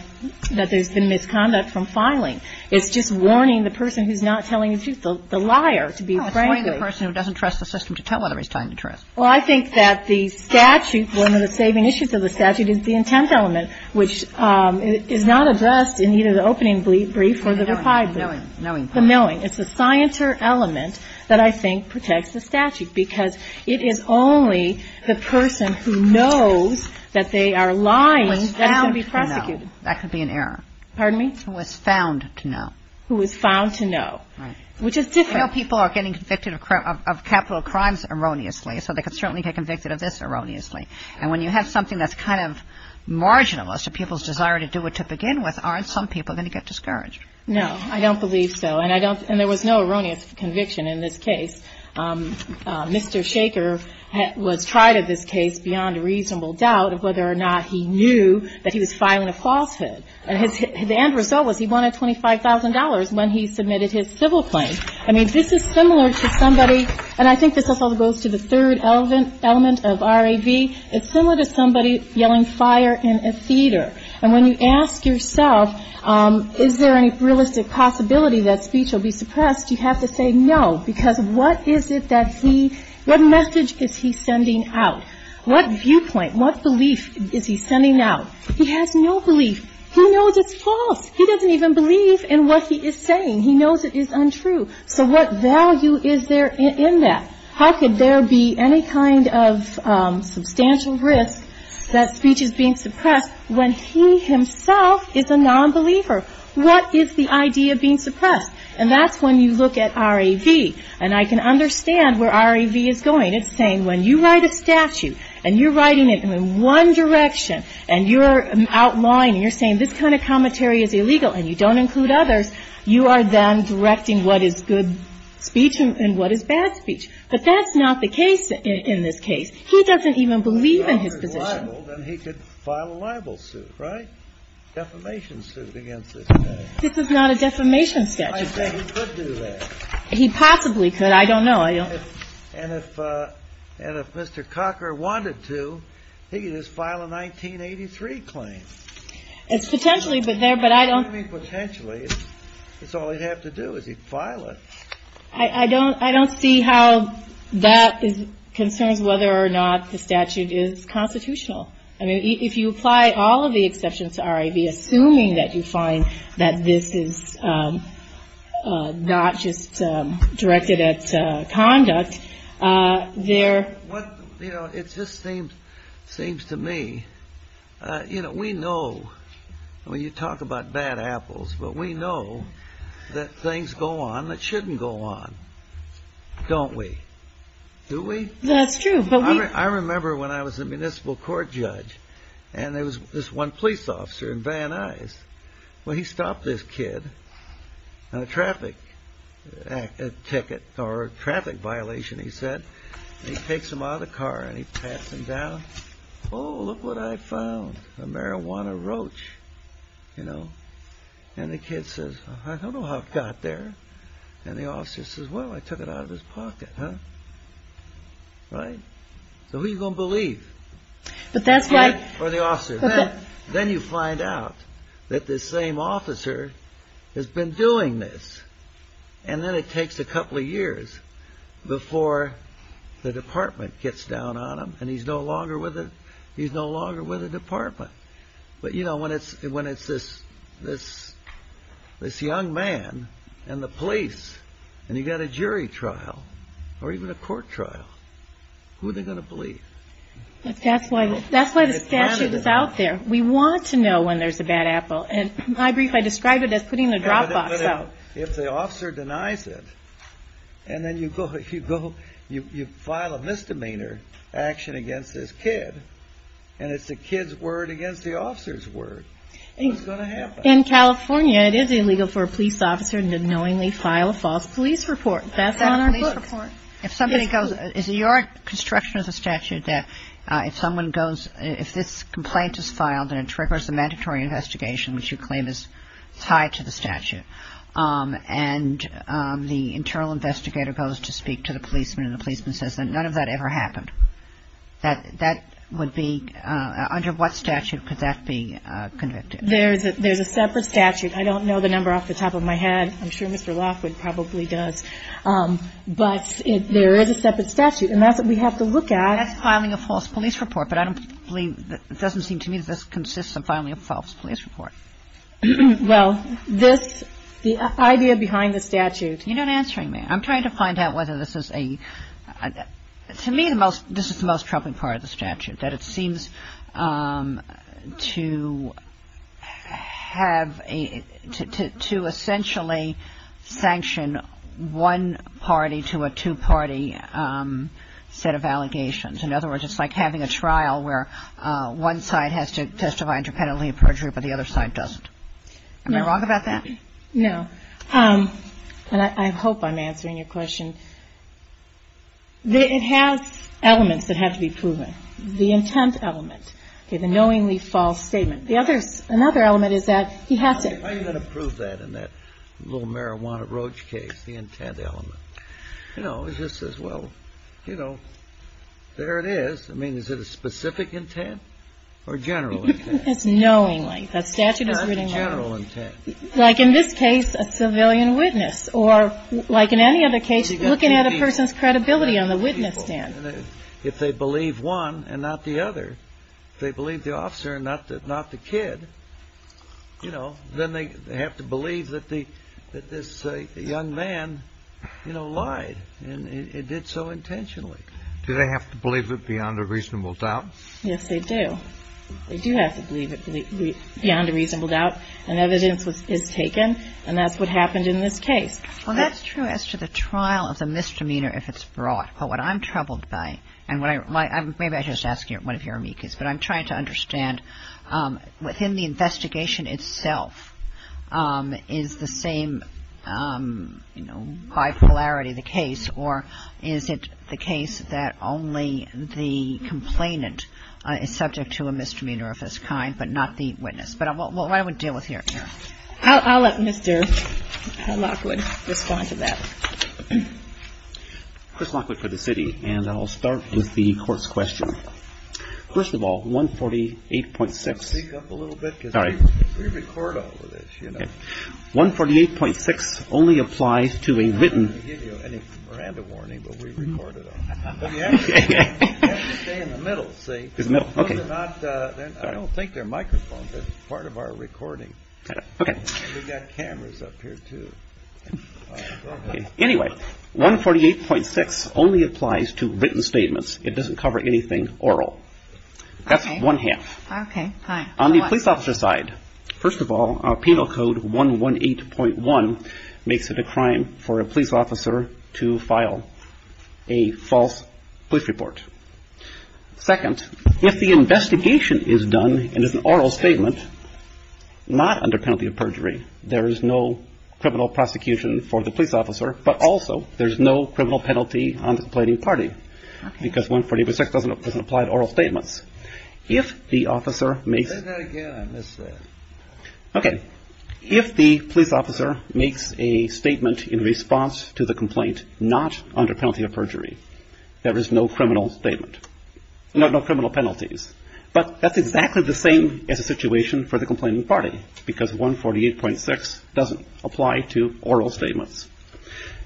there's been misconduct from filing. It's just warning the person who's not telling the truth, the liar, to be frank with you. It's warning the person who doesn't trust the system to tell what he's telling the truth. Well, I think that the statute, one of the saving issues of the statute, is the intent element, which is not addressed in either the opening brief or the reply brief. The knowing. The knowing. It's the scienter element that I think protects the statute, because it is only the person who knows that they are lying that is going to be prosecuted. Who is found to know. That could be an error. Pardon me? Who is found to know. Who is found to know. Right. Which is different. You know, people are getting convicted of capital crimes erroneously, so they could certainly get convicted of this erroneously. And when you have something that's kind of marginal as to people's desire to do it to begin with, aren't some people going to get discouraged? No. I don't believe so. And there was no erroneous conviction in this case. Mr. Shaker was tried in this case beyond a reasonable doubt of whether or not he knew that he was filing a falsehood. And the end result was he wanted $25,000 when he submitted his civil claim. I mean, this is similar to somebody, and I think this also goes to the third element of R.A.V. It's similar to somebody yelling fire in a theater. And when you ask yourself, is there any realistic possibility that speech will be suppressed, you have to say no, because what is it that he, what message is he sending out? What viewpoint, what belief is he sending out? He has no belief. He knows it's false. He doesn't even believe in what he is saying. He knows it is untrue. So what value is there in that? How could there be any kind of substantial risk that speech is being suppressed when he himself is a nonbeliever? What is the idea of being suppressed? And that's when you look at R.A.V. And I can understand where R.A.V. is going. It's saying when you write a statute and you're writing it in one direction and you're outlawing and you're saying this kind of commentary is illegal and you don't include others, you are then directing what is good speech and what is bad speech. But that's not the case in this case. He doesn't even believe in his position. Well, then he could file a libel suit, right? A defamation suit against this guy. This is not a defamation statute. He could do that. He possibly could. I don't know. And if Mr. Cocker wanted to, he could just file a 1983 claim. Potentially, but I don't... I mean, potentially, it's all he'd have to do is he'd file it. I don't see how that is concerned whether or not the statute is constitutional. I mean, if you apply all of the exceptions to R.A.V., assuming that you find that this is not just directed at conduct, there... You know, it just seems to me, you know, we know. I mean, you talk about bad apples, but we know that things go on that shouldn't go on, don't we? Do we? That's true, but we... I remember when I was a municipal court judge and there was this one police officer in Van Nuys. Well, he stopped this kid on a traffic ticket or a traffic violation, he said. He takes him out of the car and he pats him down. Oh, look what I found. A marijuana roach, you know. And the kid says, I don't know how it got there. And the officer says, well, I took it out of his pocket, huh? Right? So who are you going to believe? But that's... Right, or the officer. Then you find out that this same officer has been doing this. And then it takes a couple of years before the department gets down on him and he's no longer with the department. But, you know, when it's this young man and the police and you've got a jury trial or even a court trial, who are they going to believe? That's why the statute is out there. We want to know when there's a bad apple. And my brief, I described it as putting a drop box out. If the officer denies it, and then you file a misdemeanor action against this kid, and it's the kid's word against the officer's word, what's going to happen? In California, it is illegal for a police officer to knowingly file a false police report. That's on our book. If somebody goes... Is your construction of the statute that if someone goes... If this complaint is filed and it triggers a mandatory investigation, which you claim is tied to the statute, and the internal investigator goes to speak to the policeman and the policeman says that none of that ever happened, that would be... Under what statute could that be convicted? There's a separate statute. I don't know the number off the top of my head. I'm sure Mr. Lockwood probably does. But there is a separate statute. And that's what we have to look at. That's filing a false police report. But I don't believe... It doesn't seem to me that this consists of filing a false police report. Well, this... The idea behind the statute... You're not answering me. I'm trying to find out whether this is a... To me, this is the most troubling part of the statute. That it seems to have a... To essentially sanction one party to a two-party set of allegations. In other words, it's like having a trial where one side has to testify independently of perjury, but the other side doesn't. Am I wrong about that? No. I hope I'm answering your question. It has elements that have to be proven. The intent element. The knowingly false statement. The other... Another element is that you have to... I'm going to prove that in that little marijuana roach case. The intent element. You know, it just says, well, you know, there it is. I mean, is it a specific intent or general intent? It's knowingly. The statute is really knowingly. Not general intent. Like in this case, a civilian witness. Or like in any other case, looking at a person's credibility on the witness stand. If they believe one and not the other. If they believe the officer and not the kid, you know, then they have to believe that this young man, you know, lied. And did so intentionally. Do they have to believe it beyond a reasonable doubt? Yes, they do. They do have to believe it beyond a reasonable doubt. And evidence is taken. And that's what happened in this case. Well, that's true as to the trial of the misdemeanor, if it's brought. But what I'm troubled by, and maybe I should just ask one of your amicus. But I'm trying to understand, within the investigation itself, is the same, you know, high polarity the case? Or is it the case that only the complainant is subject to a misdemeanor of this kind, but not the witness? But what I would deal with here. I'll let Mr. Lockwood respond to that. Chris Lockwood for the city. And I'll start with the court's question. First of all, 148.6. Speak up a little bit. Sorry. We record all of this, you know. 148.6 only applies to a written... I didn't give you any Miranda warning, but we recorded it. You have to stay in the middle, see. I don't think they're microphones. It's part of our recording. We've got cameras up here, too. Anyway, 148.6 only applies to written statements. It doesn't cover anything oral. That's one half. Okay, fine. On the police officer side, first of all, Penal Code 118.1 makes it a crime for a police officer to file a false police report. Second, if the investigation is done in an oral statement, not under penalty of perjury, there is no criminal prosecution for the police officer, but also there's no criminal penalty on the complaining party because 148.6 doesn't apply to oral statements. If the officer makes... Say that again. I missed that. Okay. If the police officer makes a statement in response to the complaint not under penalty of perjury, there is no criminal statement. No criminal penalties. But that's exactly the same as the situation for the complaining party because 148.6 doesn't apply to oral statements.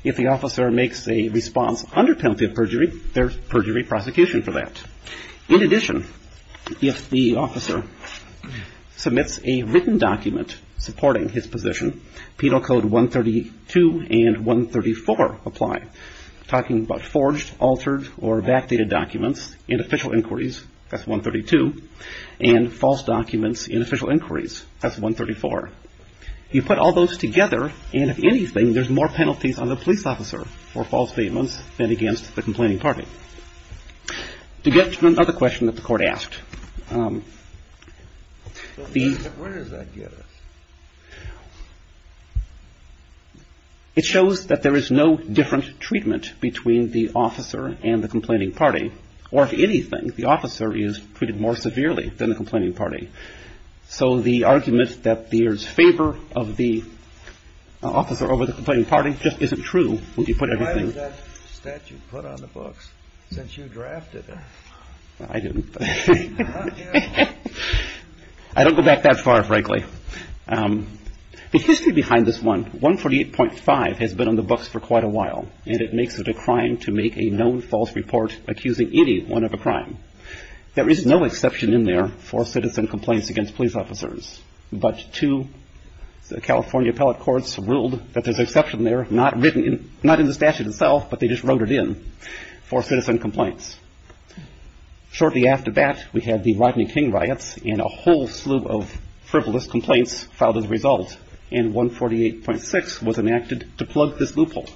If the officer makes a response under penalty of perjury, there's perjury prosecution for that. In addition, if the officer submits a written document supporting his position, Penal Code 132 and 134 apply. Talking about forged, altered, or backdated documents in official inquiries, that's 132. And false documents in official inquiries, that's 134. You put all those together, and if anything, there's more penalties on the police officer for false statements than against the complaining party. You get to another question that the court asked. When does that get us? It shows that there is no different treatment between the officer and the complaining party. Or if anything, the officer is treated more severely than the complaining party. So the argument that there's favor of the officer over the complaining party just isn't true if you put everything... I didn't. I don't go back that far, frankly. The history behind this one, 148.5 has been on the books for quite a while. And it makes it a crime to make a known false report accusing anyone of a crime. There is no exception in there for citizen complaints against police officers. But two California appellate courts ruled that there's an exception there, not in the statute itself, but they just wrote it in for citizen complaints. Shortly after that, we had the Rodney King riots, and a whole slew of frivolous complaints filed as a result. And 148.6 was enacted to plug this loophole.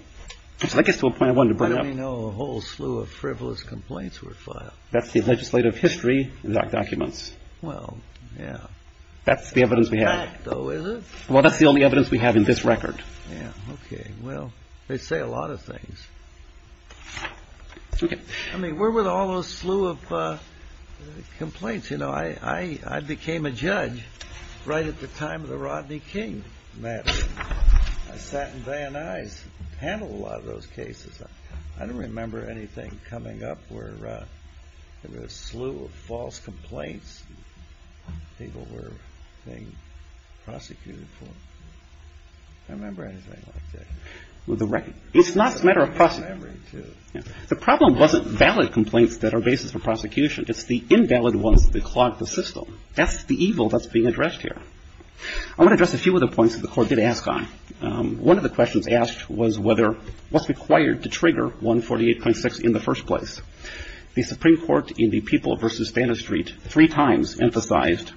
So that gets to a point I wanted to bring up. I didn't know a whole slew of frivolous complaints were filed. That's the legislative history in that document. That's the evidence we have. Well, that's the only evidence we have in this record. Okay, well, they say a lot of things. I mean, where were all those slew of complaints? You know, I became a judge right at the time of the Rodney King matter. I sat in Van Nuys and handled a lot of those cases. I don't remember anything coming up where there was a slew of false complaints people were being prosecuted for. I don't remember anything like that. It's not a matter of prosecution. The problem wasn't valid complaints that are basis for prosecution. It's the invalid ones that clog the system. That's the evil that's being addressed here. I'm going to address a few of the points that the court did ask on. One of the questions asked was what's required to trigger 148.6 in the first place. The Supreme Court in the People v. Banner Street three times emphasized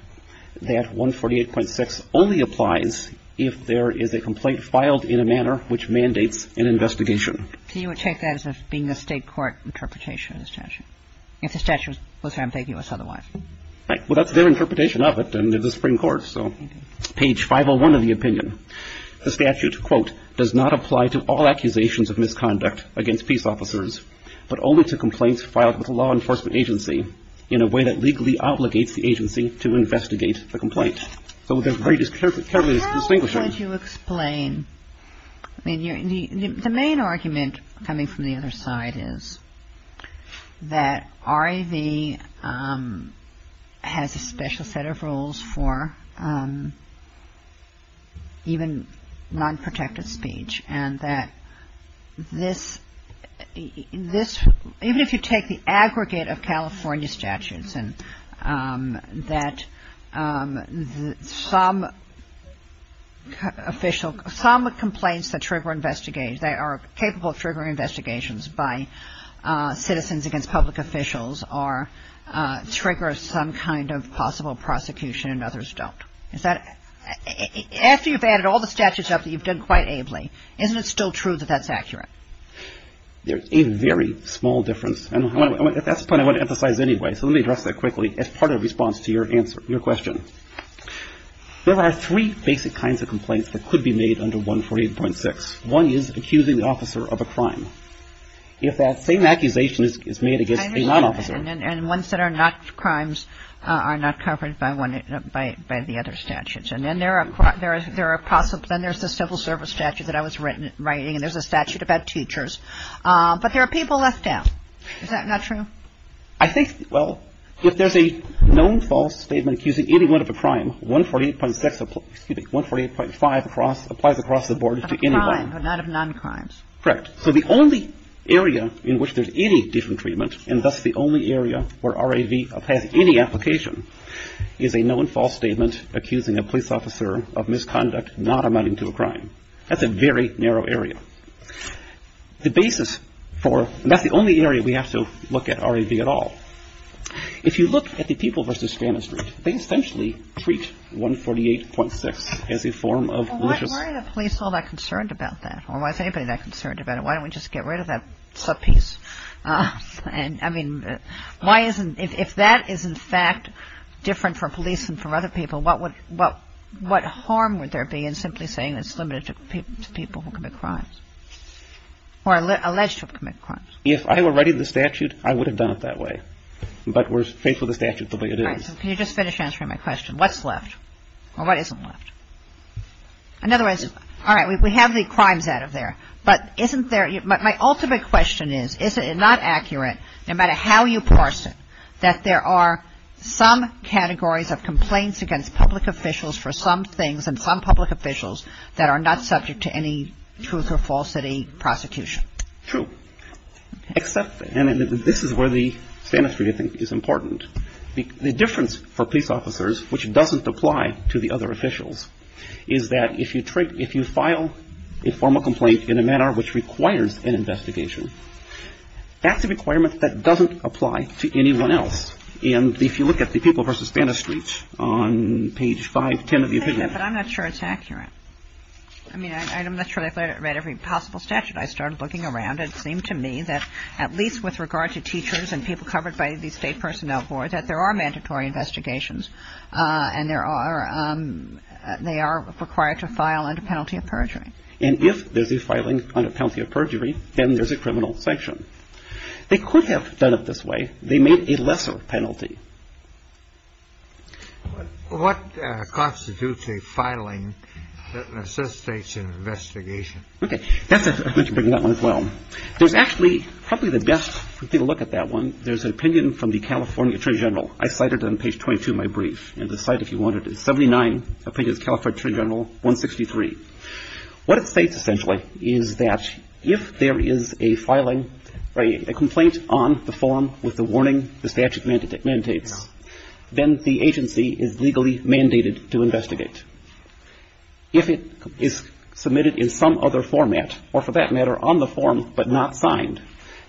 that 148.6 only applies if there is a complaint filed in a manner which mandates an investigation. So you would take that as being a state court interpretation of the statute? If the statute was ambiguous otherwise. Right. Well, that's their interpretation of it in the Supreme Court, so page 501 of the opinion. The statute, quote, does not apply to all accusations of misconduct against peace officers, but only to complaints filed with a law enforcement agency in a way that legally obligates the agency to investigate the complaint. How would you explain? The main argument coming from the other side is that RAV has a special set of rules for even non-protective speech. And that this, even if you take the aggregate of California statutes, and that some official, some complaints that trigger, that are capable of triggering investigations by citizens against public officials are, trigger some kind of possible prosecution and others don't. After you've added all the statutes up that you've done quite ably, isn't it still true that that's accurate? There's a very small difference. And that's the point I want to emphasize anyway. So let me address that quickly as part of the response to your question. There are three basic kinds of complaints that could be made under 148.6. One is accusing the officer of a crime. If that same accusation is made against a non-officer. And one is that crimes are not covered by the other statutes. And then there's the civil service statute that I was writing. And there's a statute about teachers. But there are people left out. Is that not true? I think, well, if there's a known false statement accusing anyone of a crime, 148.5 applies across the board to anyone. Of crimes, but not of non-crimes. Correct. So the only area in which there's any different treatment, and thus the only area where RAV applies to any application, is a known false statement accusing a police officer of misconduct not amounting to a crime. That's a very narrow area. The basis for, and that's the only area we have to look at RAV at all. If you look at the people versus standards, they essentially treat 148.6 as a form of malicious. Why are the police all that concerned about that? Or why is anybody that concerned about it? Why don't we just get rid of that foot piece? And, I mean, why isn't, if that is in fact different for police than for other people, what harm would there be in simply saying it's limited to people who commit crimes? Or alleged to commit crimes. If I were writing the statute, I would have done it that way. But we're faithful to the statute the way it is. Can you just finish answering my question? What's left? Or what isn't left? In other words, all right, we have the crimes out of there. But isn't there, my ultimate question is, is it not accurate, no matter how you parse it, that there are some categories of complaints against public officials for some things and some public officials that are not subject to any truth or falsity prosecution? True. Except, and this is where the sanity is important. The difference for police officers, which doesn't apply to the other officials, is that if you file a formal complaint in a manner which requires an investigation, that's a requirement that doesn't apply to anyone else. And if you look at the People v. Spanish Streets on page 510 of your handout. But I'm not sure it's accurate. I mean, I'm not sure I've read every possible statute. I started looking around and it seemed to me that at least with regard to teachers and people covered by the state personnel board, that there are mandatory investigations and they are required to file under penalty of perjury. And if there's these filings under penalty of perjury, then there's a criminal sanction. They could have done it this way. They made a lesser penalty. What constitutes a filing that necessitates an investigation? Okay. Yes, I was going to bring that one as well. There's actually, probably the best to take a look at that one, there's an opinion from the California Attorney General. I cited it on page 22 of my brief. And the slide, if you want it, is 79, opinion of California Attorney General 163. What it states essentially is that if there is a filing, a complaint on the form with the warning the statute mandates, then the agency is legally mandated to investigate. If it is submitted in some other format or, for that matter, on the form but not signed,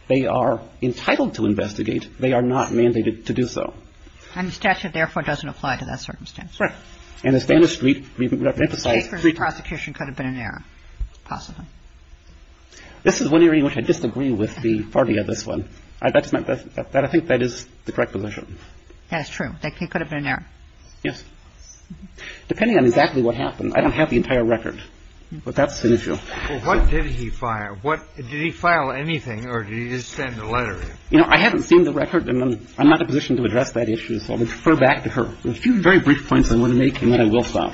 they are entitled to investigate. They are not mandated to do so. And the statute, therefore, doesn't apply to that circumstance. Correct. And the standard street, we recognize the file. Seekers of prosecution could have been an error, possibly. This is one area in which I disagree with the wording of this one. I think that is the correct deletion. That is true. That could have been an error. Yes. Depending on exactly what happened. I don't have the entire record. But that's the issue. Well, what did he file? Did he file anything or did he just send a letter in? You know, I haven't seen the record. I'm not in a position to address that issue. I'll refer back to her. There's two very brief points on 118 that I will file.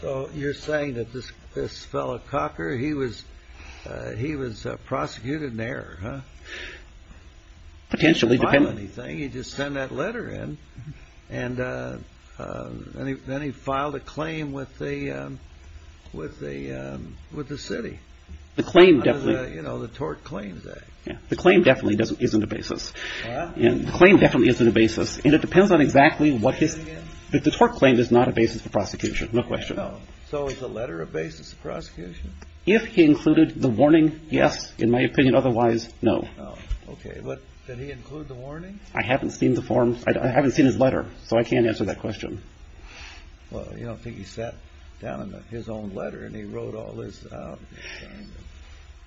So you're saying that this fellow, Cocker, he was prosecuted in error, huh? Potentially. He didn't file anything. He just sent that letter in. And then he filed a claim with the city. You know, the tort claims that. The claim definitely isn't a basis. The claim definitely isn't a basis. And it depends on exactly what the tort claim is not a basis for prosecution. No question. So is the letter a basis for prosecution? If he included the warning, yes. In my opinion, otherwise, no. Okay. But did he include the warning? I haven't seen the forms. I haven't seen his letter. So I can't answer that question. Well, you don't think he sent down his own letter and he wrote all this?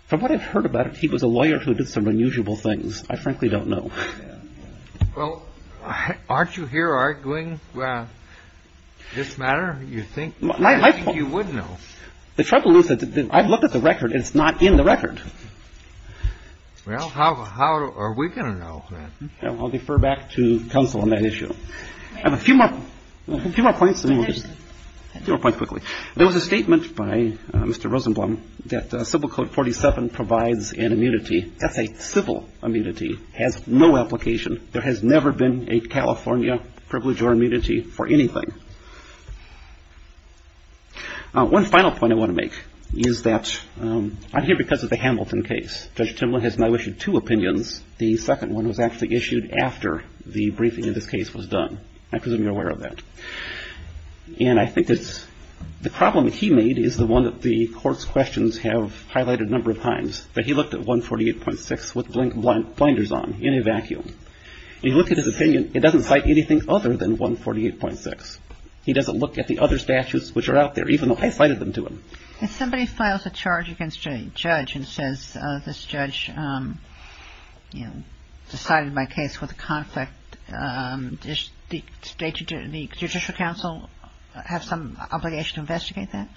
From what I've heard about him, he was a lawyer who did some unusual things. I frankly don't know. Well, aren't you here arguing this matter? You think you would know. The trouble is that I've looked at the record. It's not in the record. Well, how are we going to know? I'll defer back to counsel on that issue. A few more points. There was a statement by Mr. Rosenblum that Civil Code 47 provides an immunity. That's a civil immunity. It has no application. There has never been a California privilege or immunity for anything. One final point I want to make is that I'm here because of the Hamilton case. Judge Timberlake has now issued two opinions. The second one was actually issued after the briefing of the case was done. I presume you're aware of that. And I think that the problem that he made is the one that the court's questions have highlighted a number of times, that he looked at 148.6 with blinders on in a vacuum. He looked at his opinion. It doesn't hide anything other than 148.6. He doesn't look at the other statutes which are out there, even though I cited them to him. If somebody files a charge against a judge and says this judge, you know, decided my case was a conflict, does the state, the Judicial Council have some obligation to investigate that?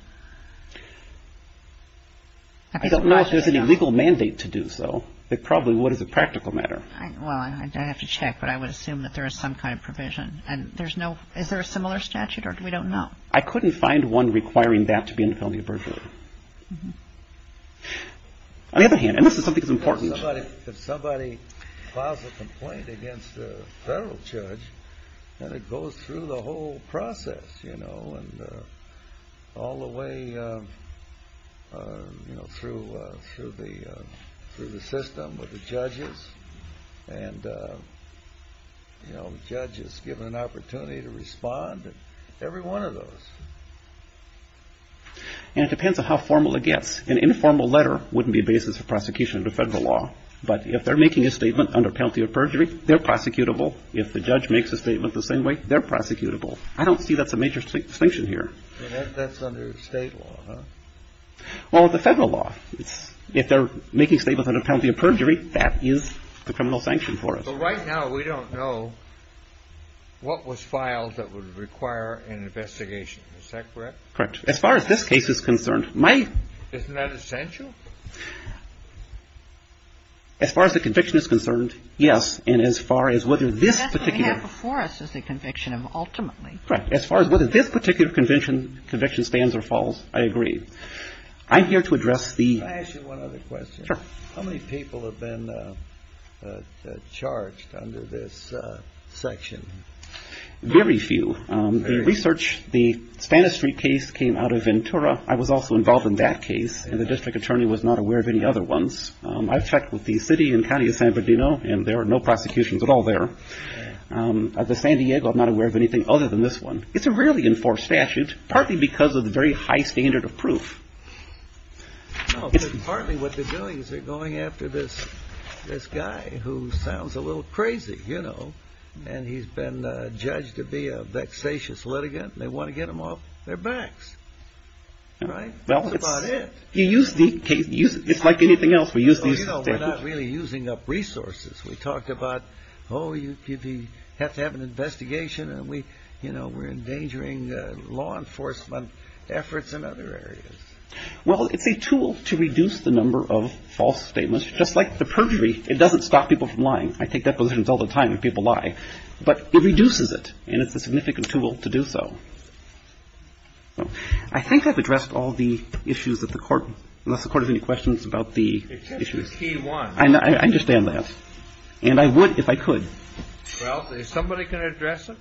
I don't know if there's any legal mandate to do so. It probably would as a practical matter. Well, I'd have to check, but I would assume that there is some kind of provision. And there's no, is there a similar statute or we don't know? I couldn't find one requiring that to be in California privilege. On the other hand, unless there's something important. If somebody files a complaint against a federal judge and it goes through the whole process, you know, and all the way, you know, through the system of the judges and, you know, judges given an opportunity to respond, every one of those. And it depends on how formal it gets. An informal letter wouldn't be the basis of prosecution under federal law. But if they're making a statement under penalty of perjury, they're prosecutable. If the judge makes a statement the same way, they're prosecutable. I don't see that's a major distinction here. That's under state law, huh? Well, it's a federal law. If they're making statements under penalty of perjury, that is the criminal sanction for it. But right now, we don't know what was filed that would require an investigation. Is that correct? Correct. As far as this case is concerned, my... Isn't that essential? As far as the conviction is concerned, yes. And as far as what is this particular... Correct. As far as whether this particular conviction spans or falls, I agree. I'm here to address the... Can I ask you one other question? Sure. How many people have been charged under this section? Very few. The research, the Spanish Street case came out of Ventura. I was also involved in that case, and the district attorney was not aware of any other ones. I've checked with the city and county of San Bernardino, and there are no prosecutions at all there. As of San Diego, I'm not aware of anything other than this one. It's a rarely enforced statute, partly because of the very high standard of proof. No, but partly what they're doing is they're going after this guy who sounds a little crazy, you know, and he's been judged to be a vexatious litigant, and they want to get him off their backs. Right? That's about it. You use the... It's like anything else, we use these statutes. No, you know, we're not really using up resources. We talked about, oh, you have to have an investigation, and we, you know, we're endangering law enforcement efforts in other areas. Well, it's a tool to reduce the number of false statements. Just like the perjury, it doesn't stop people from lying. I think that's what happens all the time when people lie. But it reduces it, and it's a significant tool to do so. I think I've addressed all the issues that the court... Unless the court has any questions about the issue. It says it's Key 1. I understand that. And I would if I could. Well, if somebody can address it.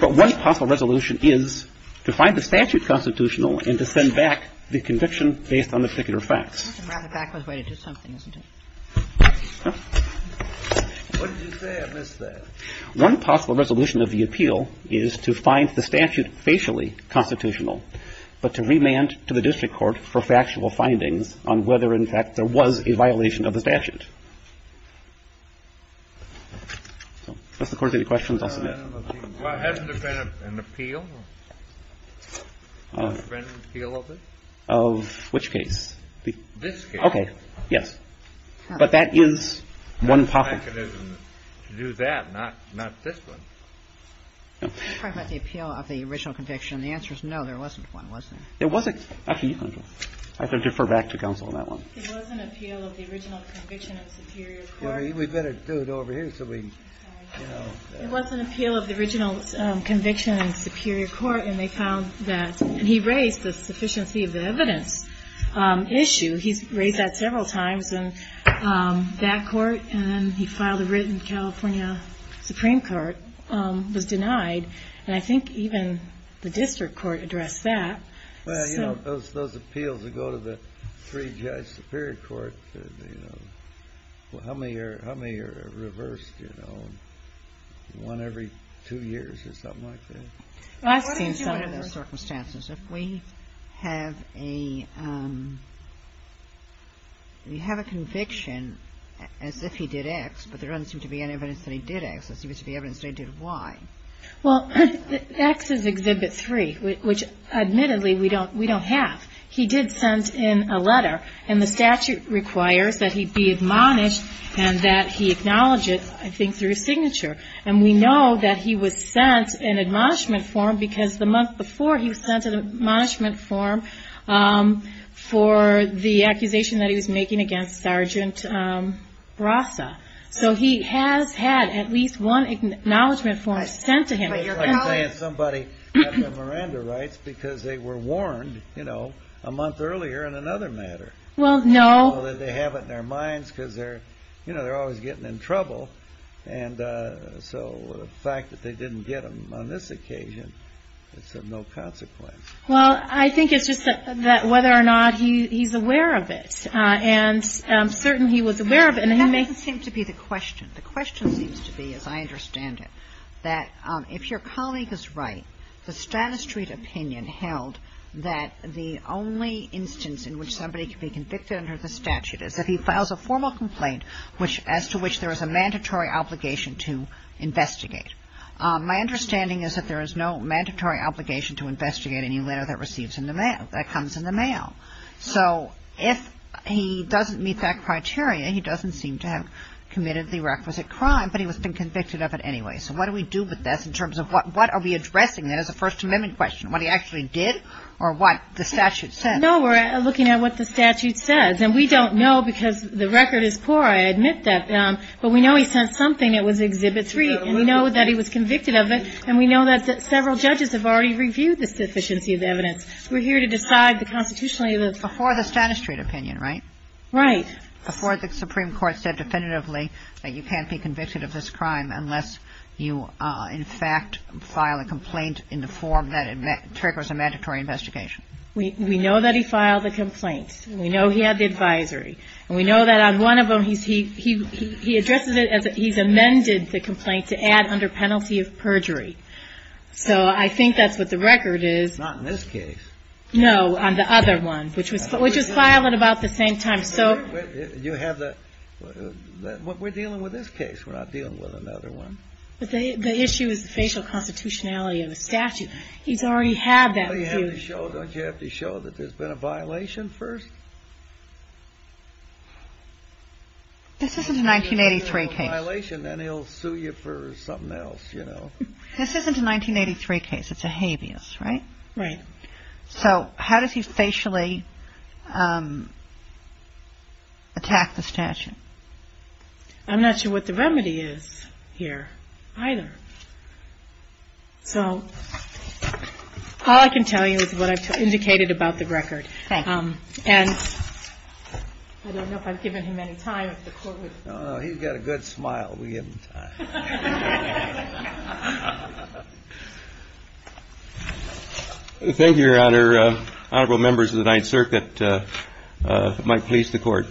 But one possible resolution is to find the statute constitutional and to send back the conviction based on the particular facts. The matter of fact was related to something, wasn't it? What did you say? I missed that. One possible resolution of the appeal is to find the statute facially constitutional, but to remand to the district court for factual findings on whether, in fact, there was a violation of the statute. Does the court have any questions on that? Well, hasn't there been an appeal? An appeal of it? Of which case? This case. Okay. Yes. But that is one possible... ...mechanism to do that, not this one. You're talking about the appeal of the original conviction. The answer is no. There wasn't one, was there? There wasn't. I can defer back to counsel on that one. There was an appeal of the original conviction in a superior court. We'd better do it over here so we... There was an appeal of the original conviction in a superior court, and they found that... And he raised the sufficiency of the evidence issue. He raised that several times in that court, and then he filed a writ in the California Supreme Court, but it was denied. And I think even the district court addressed that. Well, you know, those appeals that go to the three-judge superior court, how many are reversed, you know? One every two years or something like that. I've seen some of those circumstances. If we have a... You have a conviction as if he did X, but there doesn't seem to be any evidence that he did X. There seems to be evidence that he did Y. Well, X is Exhibit 3, which admittedly we don't have. He did send in a letter, and the statute requires that he be admonished and that he acknowledge it, I think, through his signature. And we know that he was sent an admonishment form because the month before he was sent an admonishment form for the accusation that he was making against Sergeant Rasta. So he has had at least one acknowledgment form sent to him. You're probably saying somebody got their Miranda rights because they were warned, you know, a month earlier in another matter. Well, no. They have it in their minds because they're, you know, they're always getting in trouble. And so the fact that they didn't get them on this occasion, it's of no consequence. Well, I think it's just that whether or not he's aware of it. And I'm certain he was aware of it. That doesn't seem to be the question. The question seems to be, as I understand it, that if your colleague is right, the Stata Street opinion held that the only instance in which somebody could be convicted under the statute is if he files a formal complaint as to which there is a mandatory obligation to investigate. My understanding is that there is no mandatory obligation to investigate any letter that comes in the mail. So if he doesn't meet that criteria, he doesn't seem to have committed the requisite crime, but he must have been convicted of it anyway. So what do we do with this in terms of what are we addressing? That is a First Amendment question. What he actually did or what the statute says. No, we're looking at what the statute says. And we don't know because the record is poor, I admit that. But we know he sent something that was Exhibit 3. We know that he was convicted of it. And we know that several judges have already reviewed the sufficiency of the evidence. We're here to decide the constitutionality of this. Before the Stata Street opinion, right? Right. Before the Supreme Court said definitively that you can't be convicted of this crime unless you, in fact, file a complaint in the form that triggers a mandatory investigation. We know that he filed the complaint. We know he had the advisory. And we know that on one of them he addressed it as he's amended the complaint to add under penalty of perjury. So I think that's what the record is. Not in this case. No, on the other one, which was filed at about the same time. You have the – we're dealing with this case. We're not dealing with another one. The issue is the spatial constitutionality of the statute. He's already had that. Doesn't he have to show that there's been a violation first? This isn't a 1983 case. If there's a violation, then he'll sue you for something else, you know. This isn't a 1983 case. It's a habeas, right? Right. So how does he spatially attack the statute? I'm not sure what the remedy is here either. So all I can tell you is what I've indicated about the record. Thanks. And I don't know if I've given him any time. No, no, he's got a good smile. We give him time. Thank you, Your Honor. Honorable members of the Ninth Circuit. Mike, please, the court.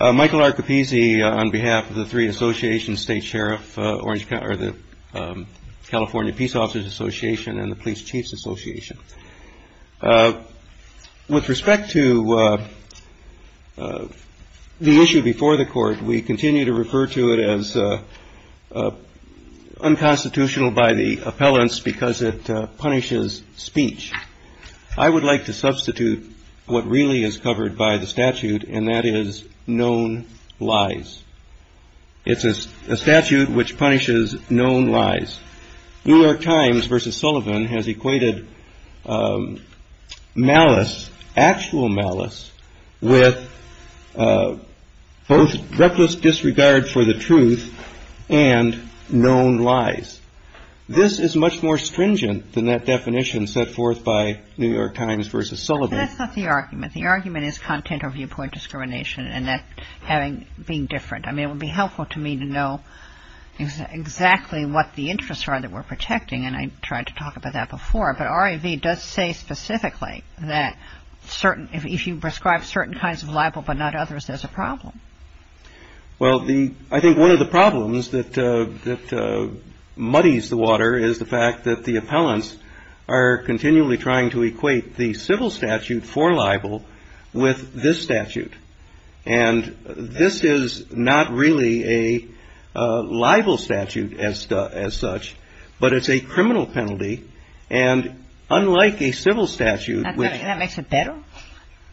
Michael R. Papese on behalf of the three associations, State Sheriff, California Peace Officers Association, and the Police Chiefs Association. With respect to the issue before the court, we continue to refer to it as unconstitutional by the appellants because it punishes speech. I would like to substitute what really is covered by the statute, and that is known lies. It's a statute which punishes known lies. New York Times versus Sullivan has equated malice, actual malice, with both reckless disregard for the truth and known lies. This is much more stringent than that definition set forth by New York Times versus Sullivan. That's not the argument. The argument is content or viewpoint discrimination, and that being different. I mean, it would be helpful to me to know exactly what the interests are that we're protecting, and I tried to talk about that before. But RAV does say specifically that if you prescribe certain kinds of libel but not others, there's a problem. Well, I think one of the problems that muddies the water is the fact that the appellants are continually trying to equate the civil statute for libel with this statute. And this is not really a libel statute as such, but it's a criminal penalty. And unlike a civil statute,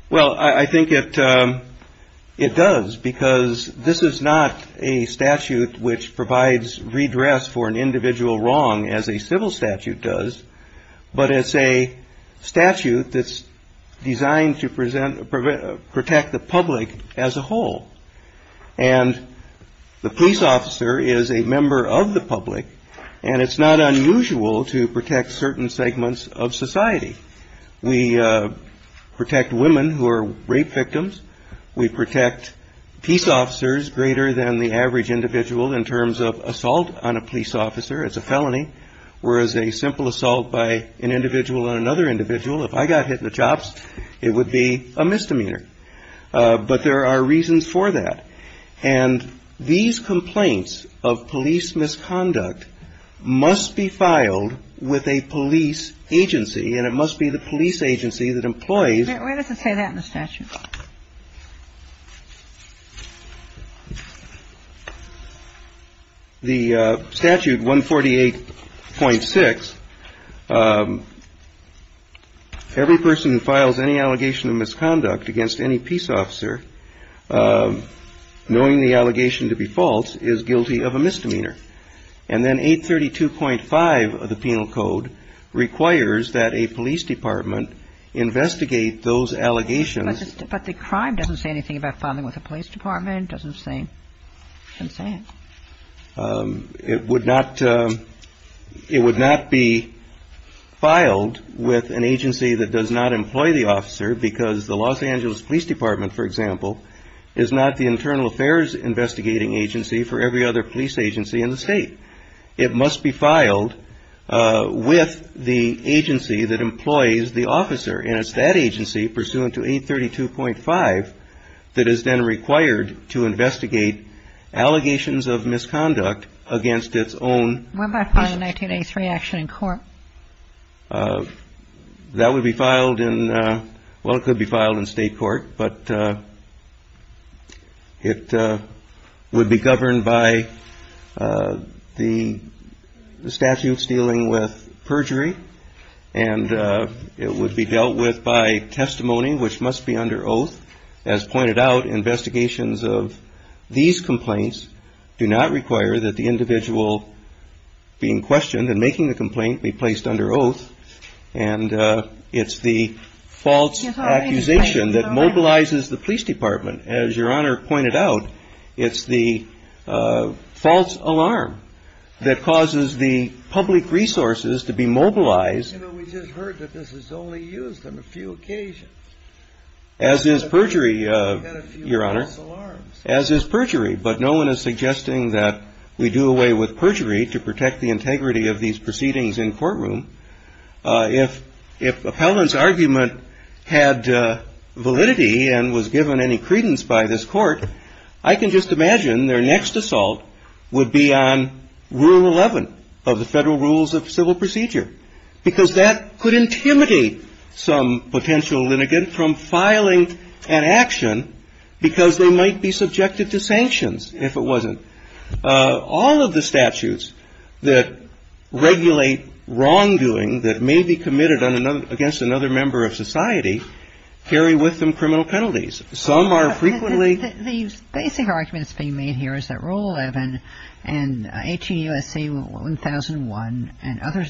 well, I think it does, because this is not a statute which provides redress for an individual wrong as a civil statute does, but it's a statute that's designed to protect the public as a whole. And the police officer is a member of the public, and it's not unusual to protect certain segments of society. We protect women who are rape victims. We protect peace officers greater than the average individual in terms of assault on a police officer as a felony, whereas a simple assault by an individual on another individual, if I got hit in the chops, it would be a misdemeanor. But there are reasons for that. And these complaints of police misconduct must be filed with a police agency, and it must be the police agency that employs... Why does it say that in the statute? The statute, 148.6, every person who files any allegation of misconduct against any peace officer, knowing the allegation to be false, is guilty of a misdemeanor. And then 832.5 of the penal code requires that a police department investigate those allegations, But the crime doesn't say anything about filing with the police department. It doesn't say anything. It would not be filed with an agency that does not employ the officer because the Los Angeles Police Department, for example, is not the internal affairs investigating agency for every other police agency in the state. It must be filed with the agency that employs the officer, and it's that agency, pursuant to 832.5, that is then required to investigate allegations of misconduct against its own... What about filing a 1983 action in court? That would be filed in... Well, it could be filed in state court, but it would be governed by the statute dealing with perjury, and it would be dealt with by testimony, which must be under oath. As pointed out, investigations of these complaints do not require that the individual being questioned and making the complaint be placed under oath, and it's the false accusation that mobilizes the police department. As Your Honor pointed out, it's the false alarm that causes the public resources to be mobilized. As is perjury, Your Honor. As is perjury, but no one is suggesting that we do away with perjury to protect the integrity of these proceedings in courtroom. If Appellant's argument had validity and was given any credence by this court, I can just imagine their next assault would be on Rule 11 of the Federal Rules of Civil Procedure, because that could intimidate some potential litigant from filing an action because they might be subjected to sanctions if it wasn't. All of the statutes that regulate wrongdoing that may be committed against another member of society carry with them criminal penalties. Some are frequently... The basic argument that's being made here is that Rule 11 and 18 U.S.C. 1001 and other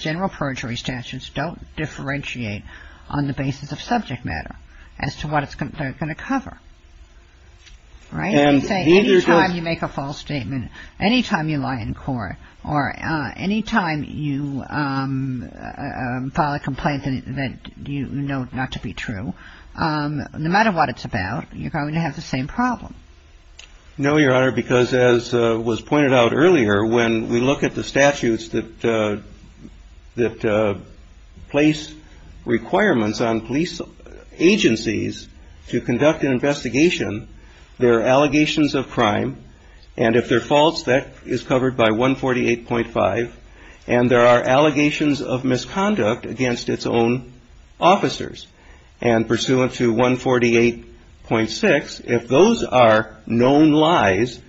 general perjury statutes don't differentiate on the basis of subject matter as to what they're going to cover. Right. Anytime you make a false statement, anytime you lie in court, or anytime you file a complaint that you know not to be true, no matter what it's about, you're going to have the same problem. No, Your Honor, because as was pointed out earlier, when we look at the statutes that place requirements on police agencies to conduct an investigation, there are allegations of crime, and if they're false, that is covered by 148.5, and there are allegations of misconduct against its own officers, and pursuant to 148.6, if those are known lies,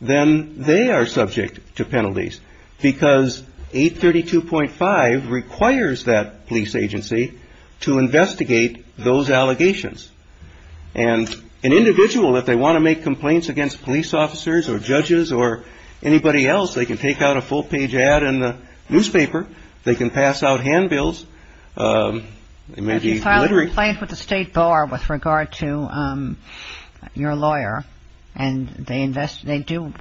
then they are subject to penalties, because 832.5 requires that police agency to investigate those allegations. And an individual, if they want to make complaints against police officers or judges or anybody else, they can take out a full-page ad in the newspaper. They can pass out handbills. If you file a complaint with the State Bar with regard to your lawyer, and they do,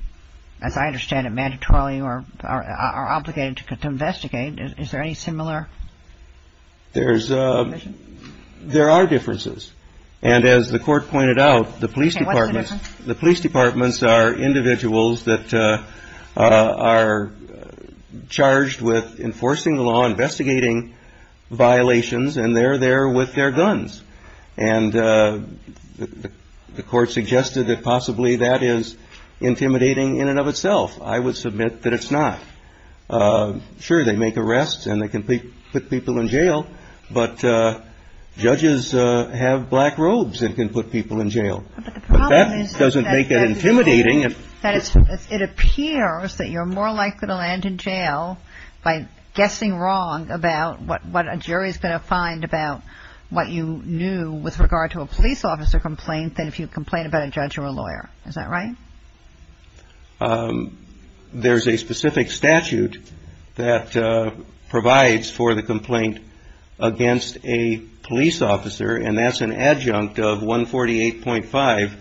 as I understand it, mandatorily or are obligated to investigate, is there any similar provision? There are differences, and as the Court pointed out, the police departments are individuals that are charged with enforcing the law, investigating violations, and they're there with their guns. And the Court suggested that possibly that is intimidating in and of itself. I would submit that it's not. Sure, they make arrests and they can put people in jail, but judges have black robes and can put people in jail. But that doesn't make it intimidating. It appears that you're more likely to land in jail by guessing wrong about what a jury is going to find about what you knew with regard to a police officer complaint than if you complain about a judge or a lawyer. Is that right? There's a specific statute that provides for the complaint against a police officer, and that's an adjunct of 148.5,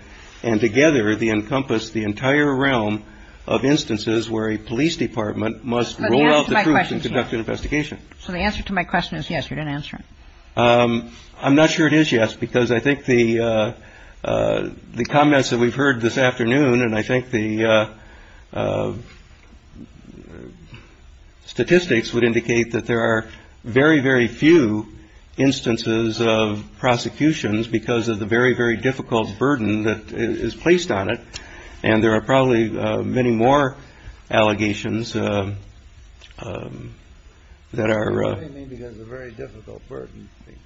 and together they encompass the entire realm of instances where a police department must roll out the troops and conduct an investigation. So the answer to my question is yes, you didn't answer it. I'm not sure it is yes, because I think the comments that we've heard this afternoon, and I think the statistics would indicate that there are very, very few instances of prosecutions because of the very, very difficult burden that is placed on it, and there are probably many more allegations that are... What do you mean by a very difficult burden being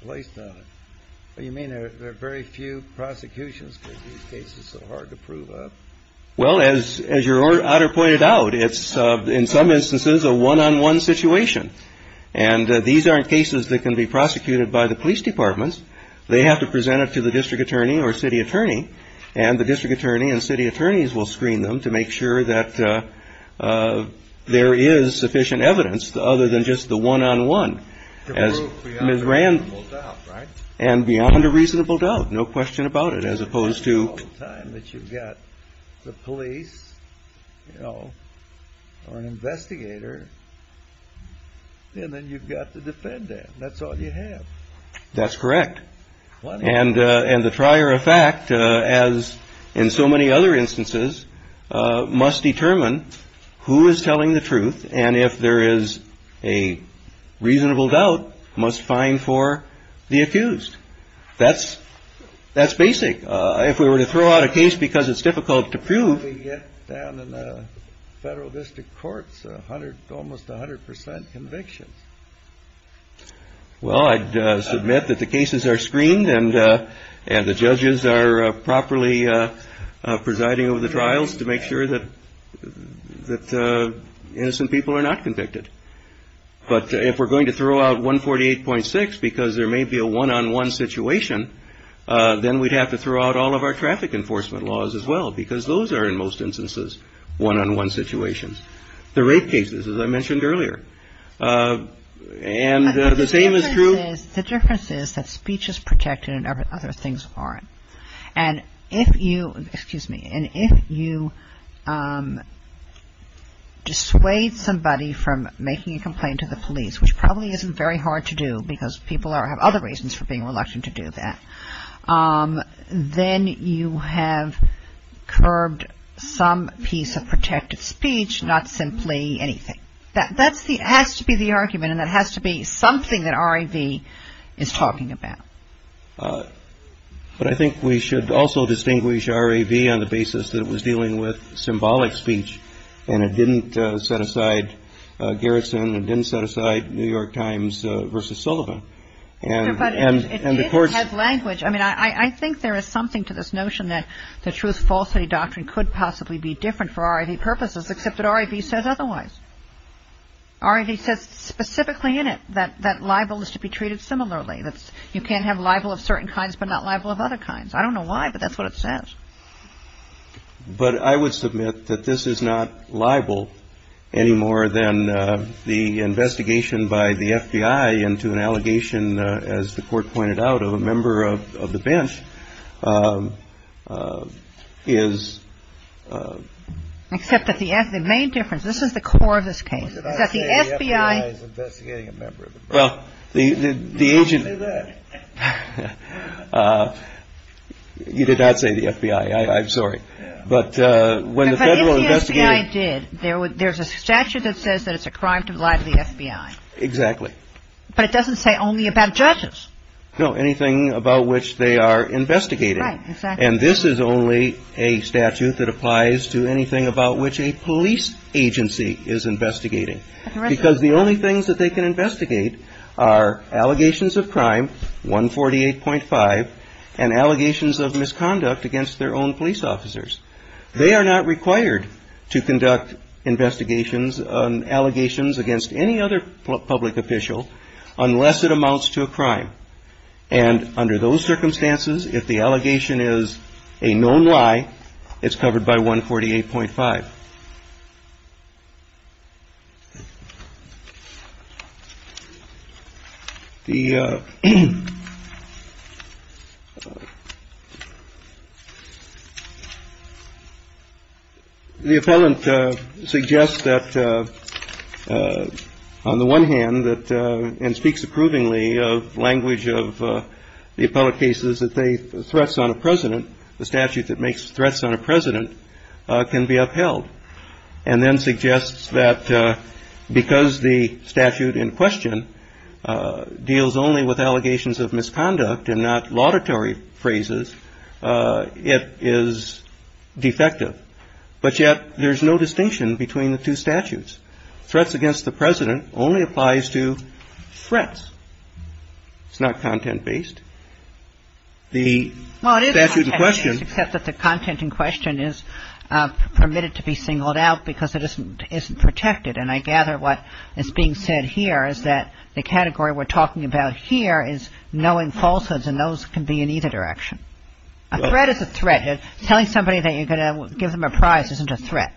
placed on it? You mean there are very few prosecutions because these cases are so hard to prove? Well, as your Honor pointed out, it's in some instances a one-on-one situation, and these aren't cases that can be prosecuted by the police departments. They have to present it to the district attorney or city attorney, and the district attorney and city attorneys will screen them to make sure that there is sufficient evidence other than just the one-on-one. To prove beyond a reasonable doubt, right? And beyond a reasonable doubt, no question about it, as opposed to... You've got the police, you know, an investigator, and then you've got the defendant. That's all you have. That's correct. And the trier of fact, as in so many other instances, must determine who is telling the truth, and if there is a reasonable doubt, must fine for the accused. That's basic. If we were to throw out a case because it's difficult to prove... We get down in the federal district courts almost 100% conviction. Well, I'd submit that the cases are screened and the judges are properly presiding over the trials to make sure that innocent people are not convicted. But if we're going to throw out 148.6 because there may be a one-on-one situation, then we'd have to throw out all of our traffic enforcement laws as well because those are, in most instances, one-on-one situations. The rape cases, as I mentioned earlier. And the same is true... And if you... Excuse me. And if you dissuade somebody from making a complaint to the police, which probably isn't very hard to do because people have other reasons for being reluctant to do that, then you have curbed some piece of protected speech, not simply anything. That has to be the argument and that has to be something that R.A.V. is talking about. But I think we should also distinguish R.A.V. on the basis that it was dealing with symbolic speech and it didn't set aside Garrison. It didn't set aside New York Times versus Sullivan. It didn't have language. I mean, I think there is something to this notion that the truth-falsehood doctrine could possibly be different for R.A.V. purposes except that R.A.V. says otherwise. R.A.V. says specifically in it that libel is to be treated similarly. You can't have libel of certain kinds but not libel of other kinds. I don't know why, but that's what it says. But I would submit that this is not libel any more than the investigation by the FBI into an allegation, as the court pointed out, of a member of the bench is... Except that the main difference, this is the core of this case, is that the FBI... Well, the agent... You did not say the FBI, I'm sorry. But if the FBI did, there's a statute that says that it's a crime to lie to the FBI. Exactly. But it doesn't say only about judges. No, anything about which they are investigating. And this is only a statute that applies to anything about which a police agency is investigating. Because the only things that they can investigate are allegations of crime, 148.5, and allegations of misconduct against their own police officers. They are not required to conduct investigations on allegations against any other public official unless it amounts to a crime. And under those circumstances, if the allegation is a known lie, it's covered by 148.5. The appellant suggests that, on the one hand, and speaks approvingly of language of the appellate cases, that threats on a president, the statute that makes threats on a president, can be upheld. And then suggests that because the statute in question deals only with allegations of misconduct and not laudatory phrases, it is defective. But yet, there's no distinction between the two statutes. Threats against the president only applies to threats. It's not content-based. Well, it is content-based, except that the content in question is permitted to be singled out because it isn't protected. And I gather what is being said here is that the category we're talking about here is knowing falsehoods, and those can be in either direction. A threat is a threat. Telling somebody that you're going to give them a prize isn't a threat.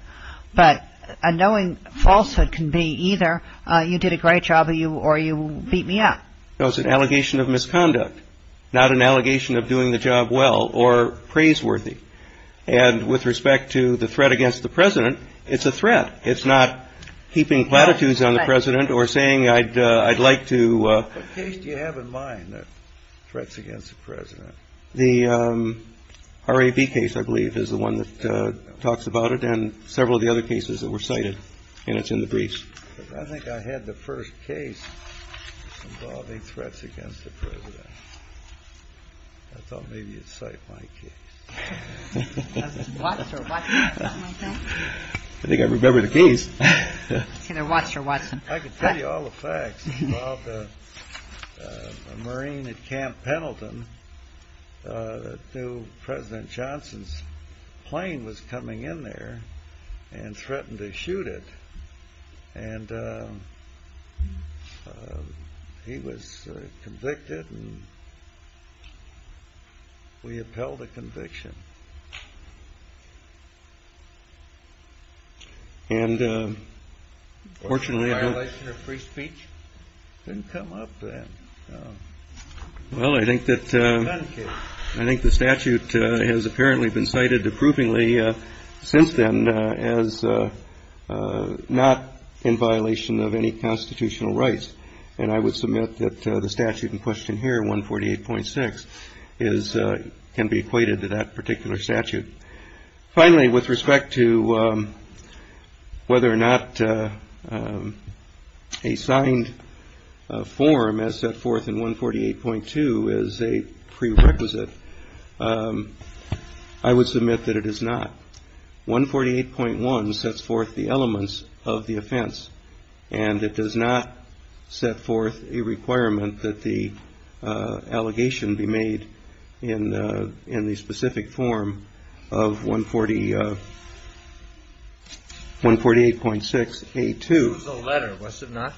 But a knowing falsehood can be either you did a great job or you beat me up. No, it's an allegation of misconduct, not an allegation of doing the job well or praiseworthy. And with respect to the threat against the president, it's a threat. It's not keeping platitudes on the president or saying I'd like to... What case do you have in mind that threats against the president? The RAB case, I believe, is the one that talks about it, and several of the other cases that were cited, and it's in the briefs. I think I had the first case involving threats against the president. I thought maybe you'd cite my case. I think I remember the case. I can tell you all the facts about the Marine at Camp Pendleton that knew President Johnson's plane was coming in there and threatened to shoot it. And he was convicted, and we upheld the conviction. And unfortunately... Was there a violation of free speech? It didn't come up then. Well, I think the statute has apparently been cited approvingly since then as not in violation of any constitutional rights. And I would submit that the statute in question here, 148.6, can be equated to that particular statute. Finally, with respect to whether or not a signed form as set forth in 148.2 is a prerequisite, I would submit that it is not. 148.1 sets forth the elements of the offense, and it does not set forth a requirement that the allegation be made in the specific form of 148.6A2. It was a letter, was it not?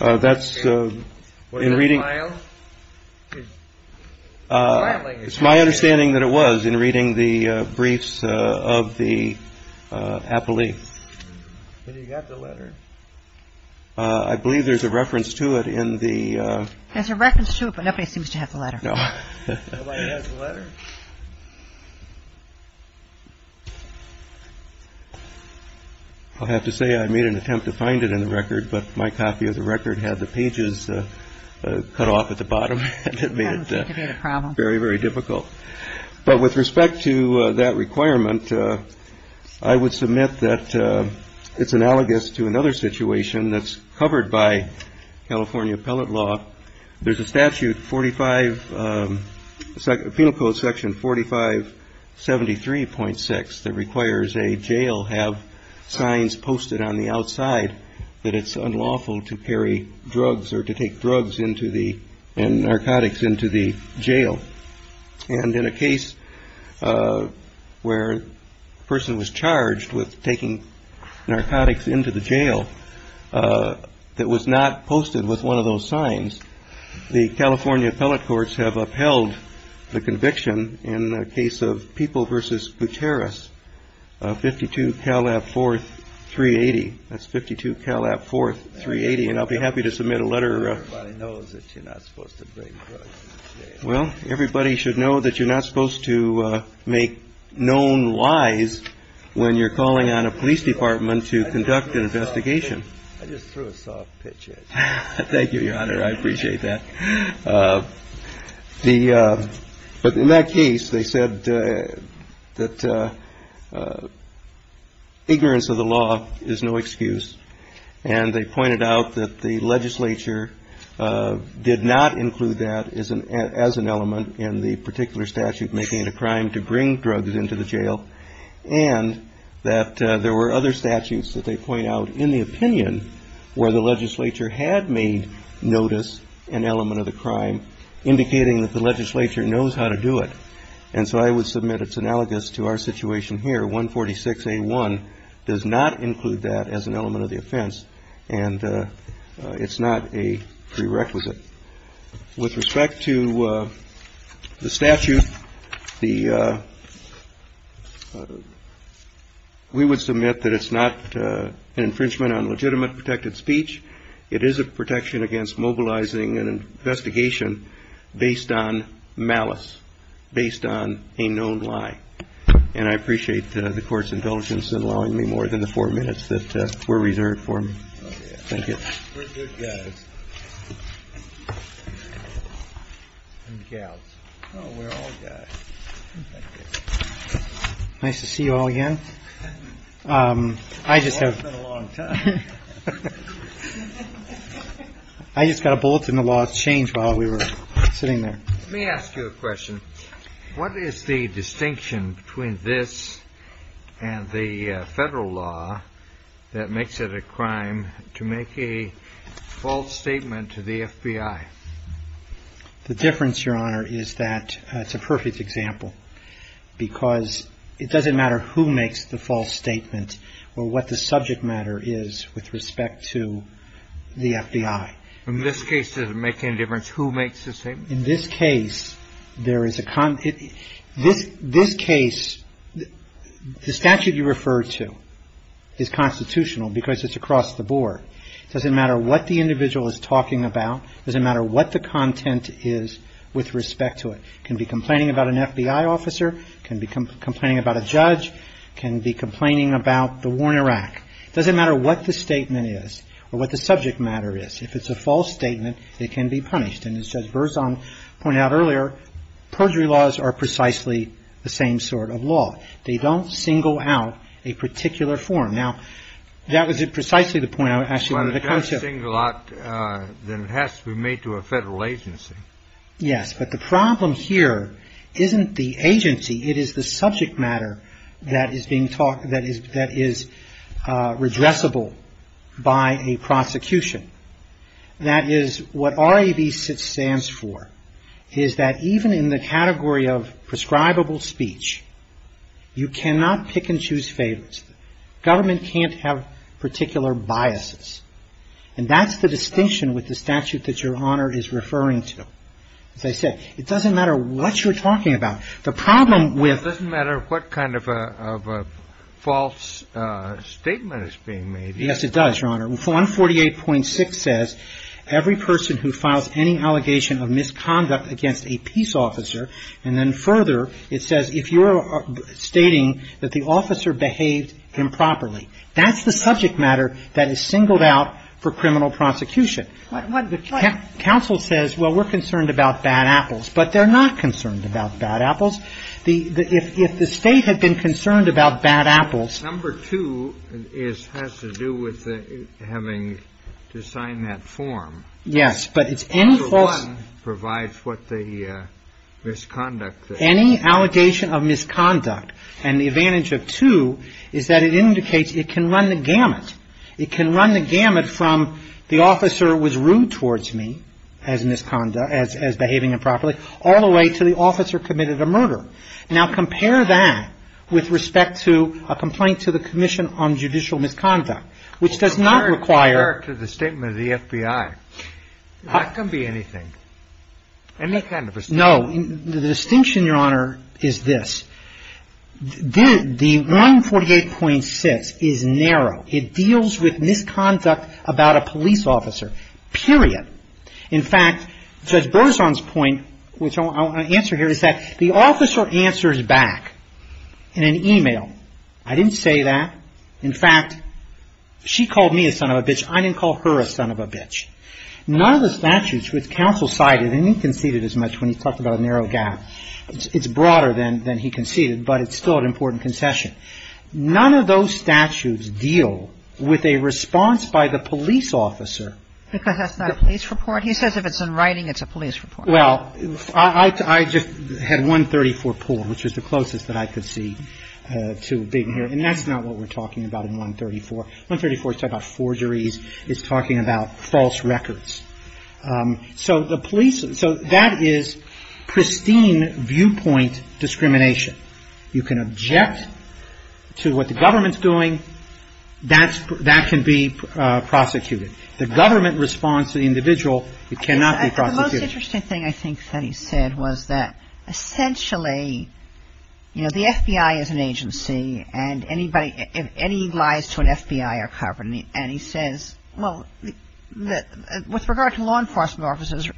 Was it a file? It's my understanding that it was in reading the briefs of the appellee. I believe there's a reference to it in the... There's a reference to it, but nobody seems to have the letter. Nobody has the letter? I'll have to say, I made an attempt to find it in the record, but my copy of the record had the pages cut off at the bottom. It made it very, very difficult. But with respect to that requirement, I would submit that it's analogous to another situation that's covered by California appellate law. There's a statute, Penal Code section 4573.6, that requires a jail have signs posted on the outside that it's unlawful to carry drugs or to take drugs and narcotics into the jail. And in a case where a person was charged with taking narcotics into the jail that was not posted with one of those signs, the California appellate courts have upheld the conviction in the case of People v. Gutierrez, 52 Calab 4, 380. That's 52 Calab 4, 380. And I'll be happy to submit a letter. Everybody knows that you're not supposed to take drugs into the jail. Well, everybody should know that you're not supposed to make known lies when you're calling on a police department to conduct an investigation. I just threw a soft pitch at you. Thank you, Your Honor. I appreciate that. But in that case, they said that ignorance of the law is no excuse. And they pointed out that the legislature did not include that as an element in the particular statute making it a crime to bring drugs into the jail. And that there were other statutes that they point out in the opinion where the legislature had made notice an element of the crime, indicating that the legislature knows how to do it. And so I would submit it's analogous to our situation here. 146A1 does not include that as an element of the offense. And it's not a prerequisite. With respect to the statute, we would submit that it's not an infringement on legitimate protected speech. It is a protection against mobilizing an investigation based on malice, based on a known lie. And I appreciate the Court's indulgence in allowing me more than the four minutes that were reserved for me. Thank you. Nice to see you all again. I just have. I just got a bullet in the wall of change while we were sitting there. Let me ask you a question. What is the distinction between this and the federal law that makes it a crime to make a false statement to the FBI? The difference, Your Honor, is that it's a perfect example. Because it doesn't matter who makes the false statement or what the subject matter is with respect to the FBI. In this case, it doesn't make any difference who makes the statement. In this case, there is a concern. This case, the statute you refer to is constitutional because it's across the board. It doesn't matter what the individual is talking about. It doesn't matter what the content is with respect to it. It can be complaining about an FBI officer. It can be complaining about a judge. It can be complaining about the Warner Act. It doesn't matter what the statement is or what the subject matter is. If it's a false statement, it can be punished. And as Burzon pointed out earlier, perjury laws are precisely the same sort of law. They don't single out a particular form. Now, that was precisely the point I was asking about the concept. Well, if it doesn't single out, then it has to be made to a federal agency. Yes. But the problem here isn't the agency. It is the subject matter that is being taught, that is redressable by a prosecution. That is what RAB stands for, is that even in the category of prescribable speech, you cannot pick and choose favors. Government can't have particular biases. And that's the distinction with the statute that Your Honor is referring to. As I said, it doesn't matter what you're talking about. It doesn't matter what kind of a false statement is being made. Yes, it does, Your Honor. 148.6 says every person who files any allegation of misconduct against a peace officer. And then further, it says if you're stating that the officer behaved improperly. That's the subject matter that is singled out for criminal prosecution. Counsel says, well, we're concerned about bad apples. But they're not concerned about bad apples. If the state had been concerned about bad apples. Number two has to do with having to sign that form. Yes, but it's any. Number one provides what the misconduct. Any allegation of misconduct. And the advantage of two is that it indicates it can run the gamut. It can run the gamut from the officer was rude towards me as misconduct, as behaving improperly. All the way to the officer committed a murder. Now compare that with respect to a complaint to the Commission on Judicial Misconduct. Which does not require. Compare it to the statement of the FBI. That can be anything. Any kind of a statement. No, the distinction, Your Honor, is this. The 148.6 is narrow. It deals with misconduct about a police officer. Period. In fact, Judge Berzon's point, which I'll answer here, is that the officer answers back. In an e-mail. I didn't say that. In fact, she called me a son of a bitch. I didn't call her a son of a bitch. None of the statutes which counsel cited, and he conceded as much when he talked about a narrow gap. It's broader than he conceded, but it's still an important concession. None of those statutes deal with a response by the police officer. That's not a police report. He says if it's in writing, it's a police report. Well, I just had 134 pulled, which is the closest that I could see to being here. And that's not what we're talking about in 134. 134 is talking about forgeries. It's talking about false records. So that is pristine viewpoint discrimination. You can object to what the government's doing. That can be prosecuted. The government responds to the individual. It cannot be prosecuted. The most interesting thing I think that he said was that essentially, you know, the FBI is an agency, and any lies to an FBI are covered. And he says, well, with regard to law enforcement officers,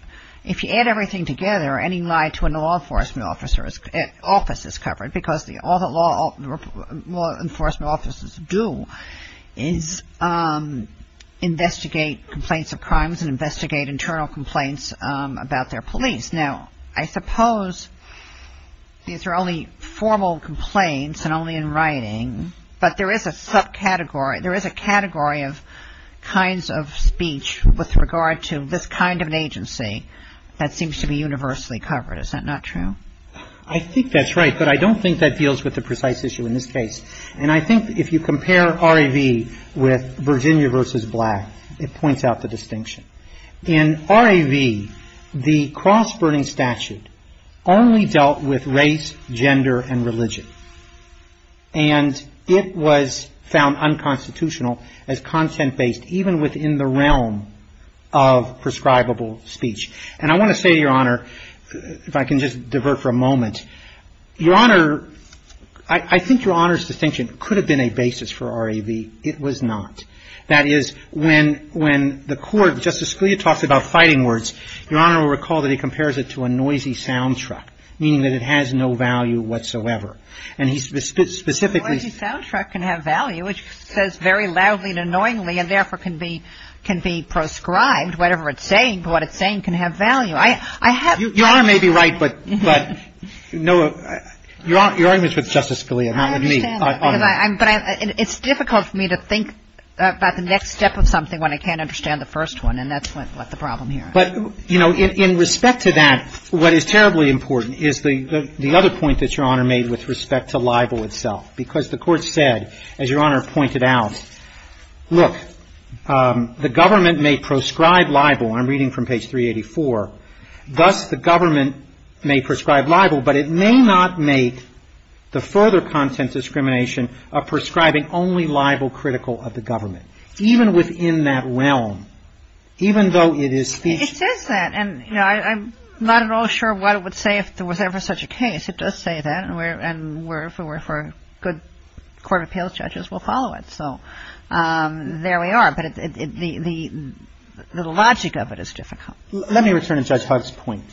if you add everything together, any lie to a law enforcement officer's office is covered, because all the law enforcement officers do is investigate complaints of crimes and investigate internal complaints about their police. Now, I suppose these are only formal complaints and only in writing, but there is a subcategory, there is a category of kinds of speech with regard to this kind of an agency that seems to be universally covered. Is that not true? I think that's right, but I don't think that deals with the precise issue in this case. And I think if you compare RAV with Virginia versus Black, it points out the distinction. In RAV, the cross-burning statute only dealt with race, gender, and religion. And it was found unconstitutional as content-based even within the realm of prescribable speech. And I want to say, Your Honor, if I can just divert for a moment, Your Honor, I think Your Honor's distinction could have been a basis for RAV. It was not. That is, when the court, Justice Scalia talked about fighting words, Your Honor will recall that he compares it to a noisy sound truck, meaning that it has no value whatsoever. And he specifically A noisy sound truck can have value, which says very loudly and annoyingly, and therefore can be proscribed, whatever it's saying, but what it's saying can have value. Your Honor may be right, but Your Honor, your argument's with Justice Scalia, not with me. I understand, but it's difficult for me to think about the next step of something when I can't understand the first one, and that's the problem here. But, you know, in respect to that, what is terribly important is the other point that Your Honor made with respect to libel itself. Because the court said, as Your Honor pointed out, look, the government may prescribe libel, I'm reading from page 384, thus the government may prescribe libel, but it may not make the further content discrimination of prescribing only libel critical of the government. Even within that realm, even though it is featured... It says that, and, you know, I'm not at all sure why it would say if there was ever such a case. It does say that, and if we're good court of appeals, judges will follow it. So there we are, but the logic of it is difficult. Let me return to Judge Huck's point.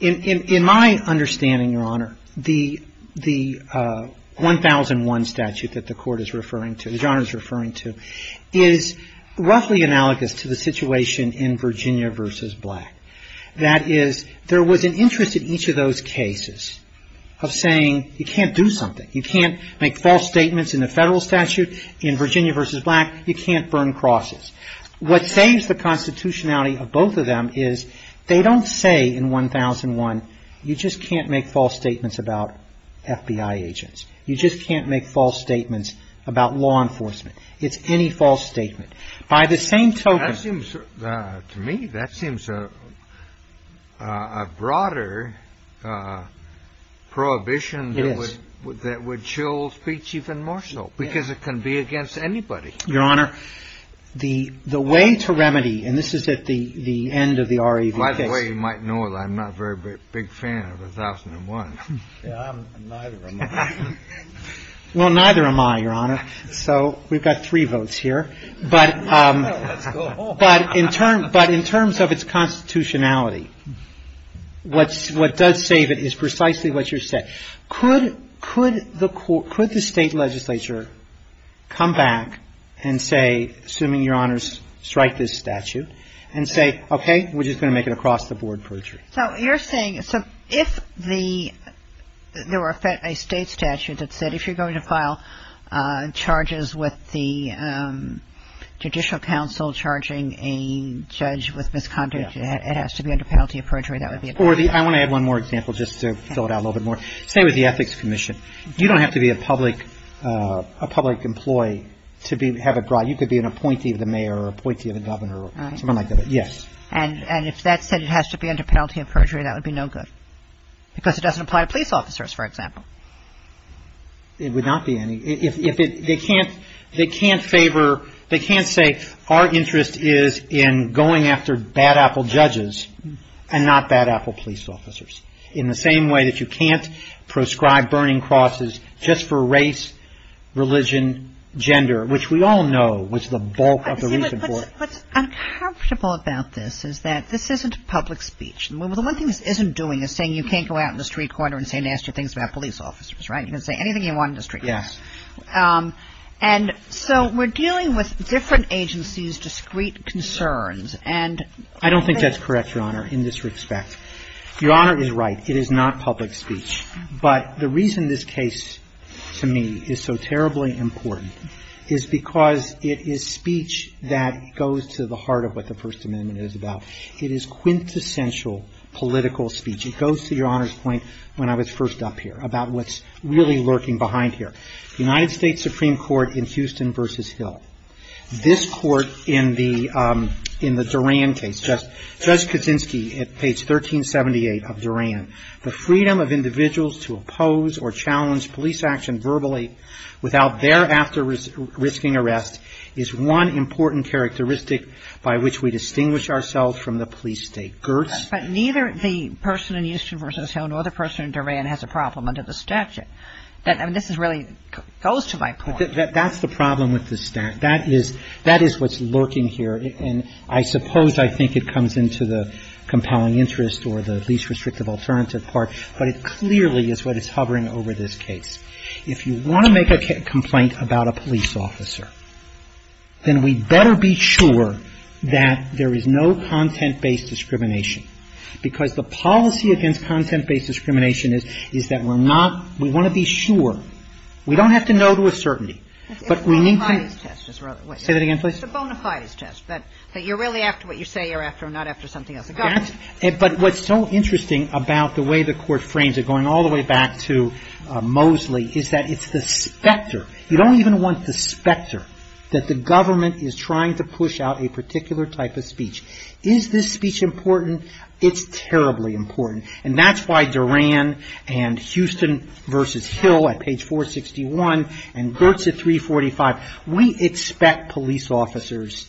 In my understanding, Your Honor, the 1001 statute that the court is referring to, that Your Honor is referring to, is roughly analogous to the situation in Virginia v. Black. That is, there was an interest in each of those cases of saying you can't do something. You can't make false statements in the federal statute. In Virginia v. Black, you can't burn crosses. What saves the constitutionality of both of them is they don't say in 1001, you just can't make false statements about FBI agents. You just can't make false statements about law enforcement. It's any false statement. By the same token... That seems, to me, that seems a broader prohibition that would chill speech even more so, because it can be against anybody. Your Honor, the way to remedy, and this is at the end of the REVC... By the way, you might know that I'm not a very big fan of 1001. Yeah, neither am I. Well, neither am I, Your Honor. So we've got three votes here. But in terms of its constitutionality, what does save it is precisely what you're saying. Could the state legislature come back and say, assuming Your Honor's strike this statute, and say, okay, we're just going to make it across-the-board perjury? So you're saying if there were a state statute that said if you're going to file charges with the judicial council charging a judge with misconduct, it has to be under penalty of perjury. I want to add one more example just to fill it out a little bit more. Say with the ethics commission. You don't have to be a public employee to have it brought. You could be an appointee of the mayor or appointee of the governor or someone like that. Yes. And if that said it has to be under penalty of perjury, that would be no good. Because it doesn't apply to police officers, for example. It would not be any... They can't favor... They can't say our interest is in going after bad apple judges and not bad apple police officers. In the same way that you can't prescribe burning crosses just for race, religion, gender, which we all know was the bulk of the recent war. What's uncomfortable about this is that this isn't public speech. The one thing this isn't doing is saying you can't go out in the street corner and say nasty things about police officers. Right? You can say anything you want in the street. Yes. And so we're dealing with different agencies' discreet concerns. I don't think that's correct, Your Honor, in this respect. Your Honor is right. It is not public speech. But the reason this case, to me, is so terribly important is because it is speech that goes to the heart of what the First Amendment is about. It is quintessential political speech. It goes to Your Honor's point when I was first up here about what's really lurking behind here. United States Supreme Court in Houston v. Hill. This court in the Duran case, Judge Kuczynski at page 1378 of Duran, the freedom of individuals to oppose or challenge police action verbally without thereafter risking arrest is one important characteristic by which we distinguish ourselves from the police state. Gertz? But neither the person in Houston v. Hill nor the person in Duran has a problem under the statute. This is really close to my point. That's the problem with this statute. That is what's lurking here. And I suppose I think it comes into the compelling interest or the least restrictive alternative part. But it clearly is what is hovering over this case. If you want to make a complaint about a police officer, then we better be sure that there is no content-based discrimination. Because the policy against content-based discrimination is that we're not, we want to be sure. We don't have to know to a certainty. But we need to... Say that again, please. It's a bona fides test. That you're really after what you say you're after and not after something else. But what's so interesting about the way the court frames it, going all the way back to Mosley, is that it's the specter. You don't even want the specter that the government is trying to push out a particular type of speech. Is this speech important? It's terribly important. And that's why Duran and Houston v. Hill at page 461 and Gertz at 345, we expect police officers,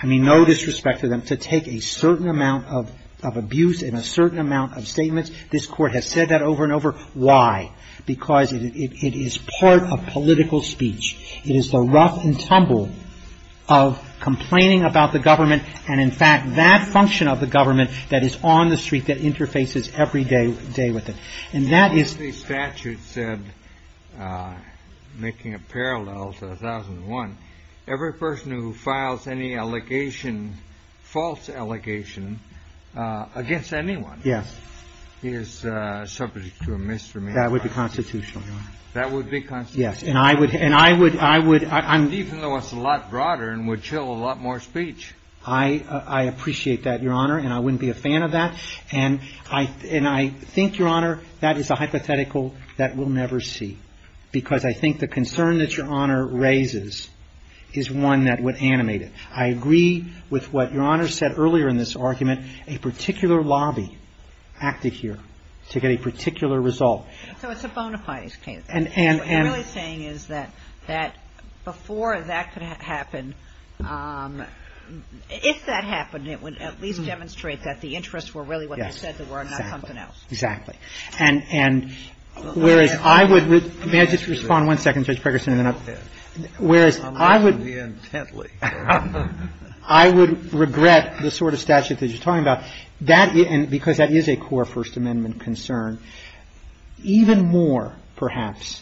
I mean no disrespect to them, to take a certain amount of abuse and a certain amount of statements. This court has said that over and over. Why? Because it is part of political speech. It is the rough and tumble of complaining about the government and in fact that function of the government that is on the street that interfaces every day with it. And that is... The statute said, making a parallel to 1001, every person who files any allegation, false allegation, against anyone, is subject to a misdemeanor. That would be constitutional. That would be constitutional. Yes. And I would... Even though it's a lot broader and would kill a lot more speech. I appreciate that, Your Honor, and I wouldn't be a fan of that. And I think, Your Honor, that is a hypothetical that we'll never see. Because I think the concern that Your Honor raises is one that would animate it. I agree with what Your Honor said earlier in this argument. A particular lobby acted here to get a particular result. So it's a bona fides campaign. What I'm really saying is that before that could happen, if that happened, it would at least demonstrate that the interests were really what they said they were and not something else. Exactly. And whereas I would... May I just respond one second, Judge Pregerson? Go ahead. Whereas I would... I'll let you in gently. I would regret the sort of statute that you're talking about. Because that is a core First Amendment concern. Even more, perhaps,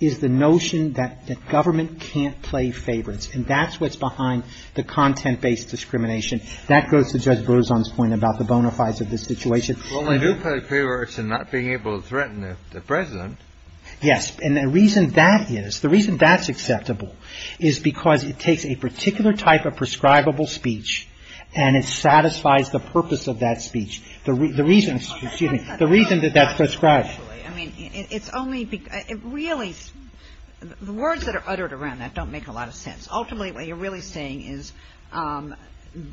is the notion that government can't play favorites. And that's what's behind the content-based discrimination. That goes to Judge Berzon's point about the bona fides of the situation. Well, they do play favorites in not being able to threaten the President. Yes. And the reason that is, the reason that's acceptable is because it takes a particular type of prescribable speech and it satisfies the purpose of that speech. The reason... Excuse me. The reason that that's prescribed. I mean, it's only... Really, the words that are uttered around that don't make a lot of sense. Ultimately, what you're really saying is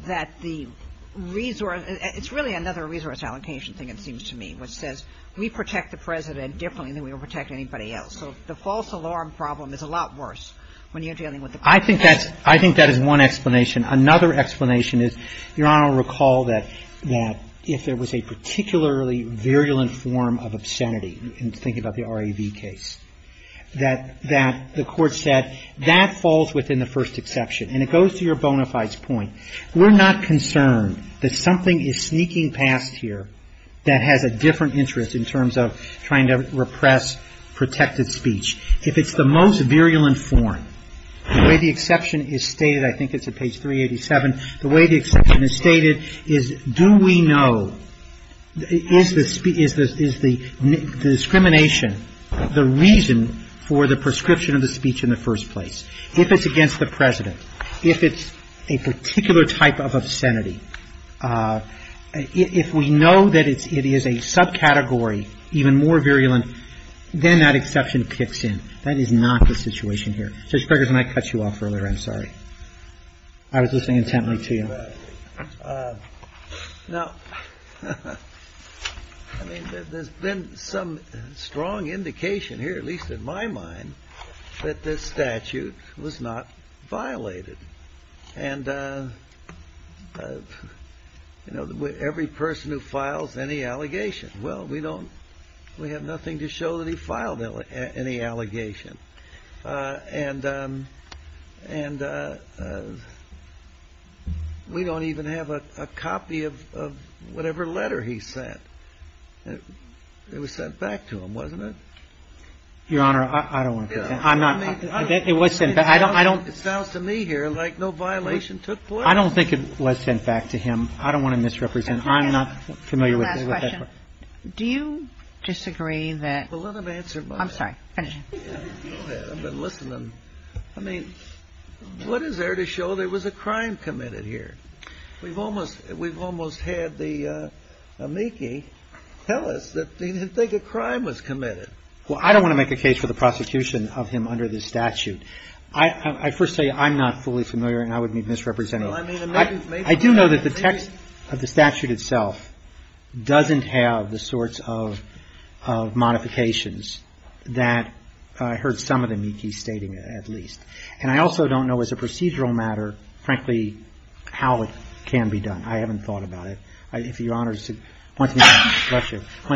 that the resource... It's really another resource allocation thing, it seems to me, which says we protect the President differently than we would protect anybody else. So the false alarm problem is a lot worse when you're dealing with the President. I think that is one explanation. Another explanation is, Your Honor will recall that if there was a particularly virulent form of obscenity, in thinking about the RAV case, that the court said that falls within the first exception. And it goes to your bona fides point. We're not concerned that something is sneaking past here that has a different interest in terms of trying to repress protected speech. If it's the most virulent form, the way the exception is stated, I think it's at page 387, the way the exception is stated is do we know... Is the discrimination the reason for the prescription of the speech in the first place? If it's against the President, if it's a particular type of obscenity, if we know that it is a subcategory, even more virulent, then that exception kicks in. That is not the situation here. Judge Gregorson, I cut you off earlier, I'm sorry. I was listening intently to you. There's been some strong indication here, at least in my mind, that this statute was not violated. And every person who files any allegation, well, we have nothing to show that he filed any allegation. And we don't even have a copy of whatever letter he sent. It was sent back to him, wasn't it? Your Honor, I don't want to... It sounds to me here like no violation took place. I don't think it was sent back to him. I don't want to misrepresent. I'm not familiar with... Do you disagree that... I'm sorry, finish. But listen, I mean, what is there to show there was a crime committed here? We've almost had the amici tell us that they think a crime was committed. Well, I don't want to make a case for the prosecution of him under this statute. I first say I'm not fully familiar and I would be misrepresented. I do know that the text of the statute itself doesn't have the sorts of modifications that I heard some of the amici stating it, at least. And I also don't know as a procedural matter, frankly, how it can be done. I haven't thought about it. If Your Honor wants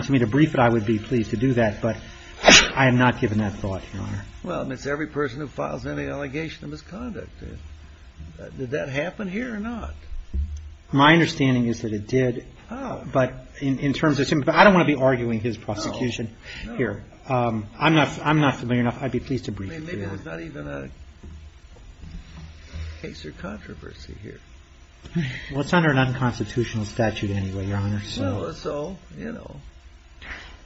me to brief it, I would be pleased to do that, but I have not given that thought, Your Honor. Well, and it's every person who files any allegation of misconduct. Did that happen here or not? My understanding is that it did, but in terms of... I don't want to be arguing his prosecution here. I'm not familiar enough. I'd be pleased to brief you. Maybe it's not even a case of controversy here. Well, it's under an unconstitutional statute anyway, Your Honor, so... So, you know,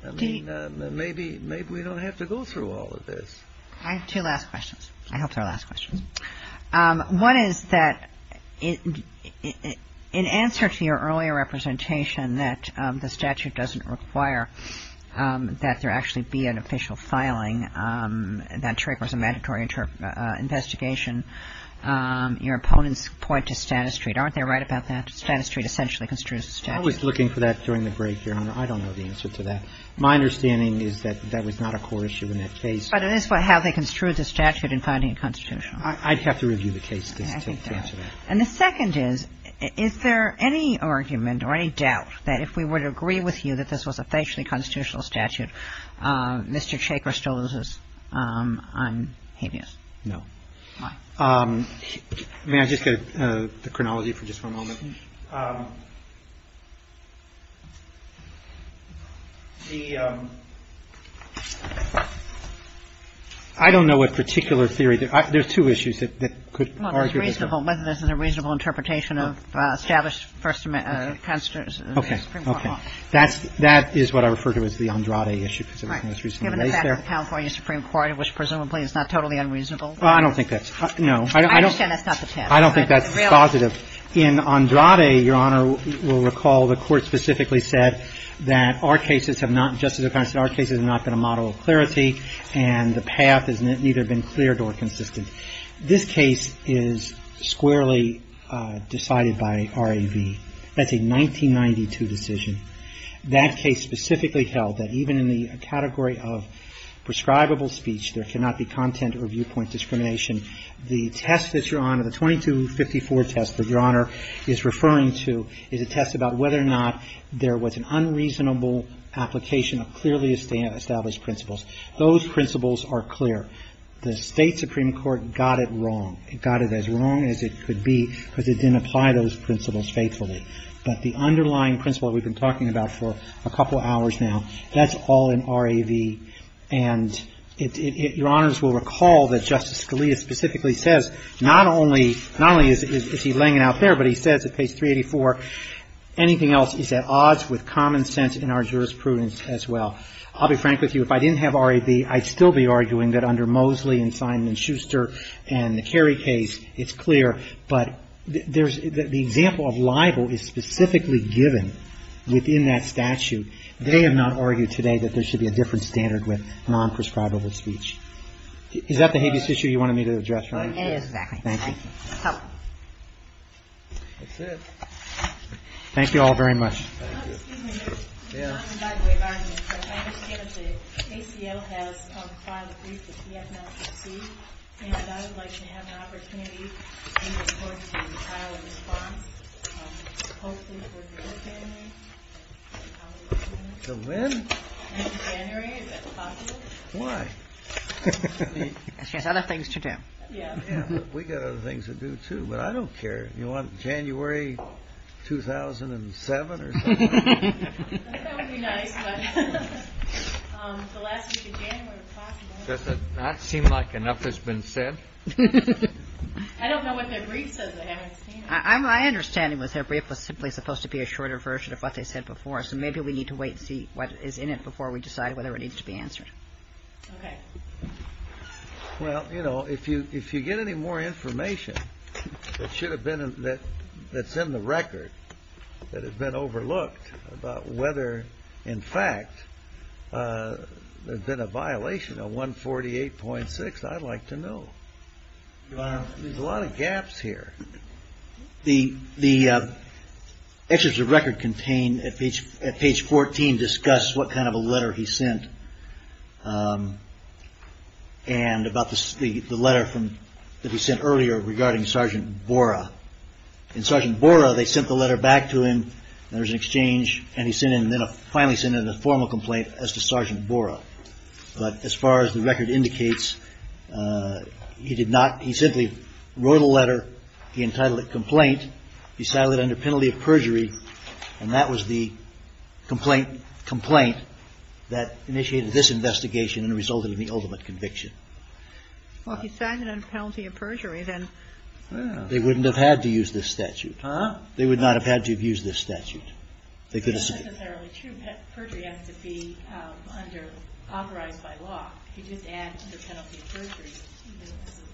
maybe we don't have to go through all of this. I have two last questions. I have three last questions. One is that in answer to your earlier representation that the statute doesn't require that there actually be an official filing, that CHCR is a mandatory investigation, your opponents point to Stata Street. Aren't they right about that? Stata Street essentially construes the statute. I was looking for that during the break, Your Honor. I don't know the answer to that. My understanding is that that was not a core issue in that case. But it is how they construed the statute in finding a constitutional. I'd have to review the case to answer that. And the second is, is there any argument or any doubt that if we were to agree with you that this was a facially constitutional statute, Mr. Chaker still loses on habeas? No. Why? May I just go to the chronology for just one moment? I don't know what particular theory. There's two issues that could argue with it. Well, whether this is a reasonable interpretation of established constitutional... Okay, okay. That is what I refer to as the Andrade issue. Well, I don't think that's... No. I understand that's not the case. I don't think that's causative. In Andrade, Your Honor, we'll recall the court specifically said that our cases have not... Justice O'Connor said our cases have not been a model of clarity and the path has neither been clear nor consistent. This case is squarely decided by RAV. That's a 1992 decision. That case specifically held that even in the category of prescribable speech, there cannot be content or viewpoint discrimination. The test that Your Honor... The 2254 test that Your Honor is referring to is a test about whether or not there was an unreasonable application of clearly established principles. Those principles are clear. The State Supreme Court got it wrong. It got it as wrong as it could be because it didn't apply those principles faithfully. But the underlying principle we've been talking about for a couple hours now, that's all in RAV. And Your Honors will recall that Justice Scalia specifically says not only is he laying it out there, but he says at page 384, anything else is at odds with common sense in our jurisprudence as well. I'll be frank with you. If I didn't have RAV, I'd still be arguing that under Mosley and Simon & Schuster and the Kerry case, it's clear. But the example of libel is specifically given within that statute. They have not argued today that there should be a different standard with non-prescribable speech. Is that the heaviest issue you wanted me to address? It is. Thank you. Thank you all very much. Excuse me. Yeah. By the way, Your Honors, Justice Kennedy, ACL has filed a case against National Security, and I know it looks like they have an opportunity to bring the court to trial and respond, hopefully before January. Until when? Until January, if that's possible. Why? She has other things to do. Yeah. We've got other things to do too, but I don't care. You want January 2007 or something? That would be nice, but the last week of January is possible. That seems like enough has been said. I don't know what their brief says. My understanding was their brief was simply supposed to be a shorter version of what they said before, so maybe we need to wait and see what is in it before we decide whether it needs to be answered. Okay. Well, you know, if you get any more information that's in the record that has been overlooked about whether, in fact, there's been a violation on 148.6, I'd like to know. There's a lot of gaps here. The excerpts of the record contained at page 14 discuss what kind of a letter he sent and about the letter that he sent earlier regarding Sergeant Borah. In Sergeant Borah, they sent the letter back to him, and there was an exchange, and he finally sent in a formal complaint as to Sergeant Borah. But as far as the record indicates, he simply wrote a letter. He entitled it complaint. He settled it under penalty of perjury, and that was the complaint that initiated this investigation and resulted in the ultimate conviction. Well, if he settled it under penalty of perjury, then... They wouldn't have had to use this statute. They would not have had to have used this statute. That's not necessarily true. That perjury has to be authorized by law. If he just adds under penalty of perjury,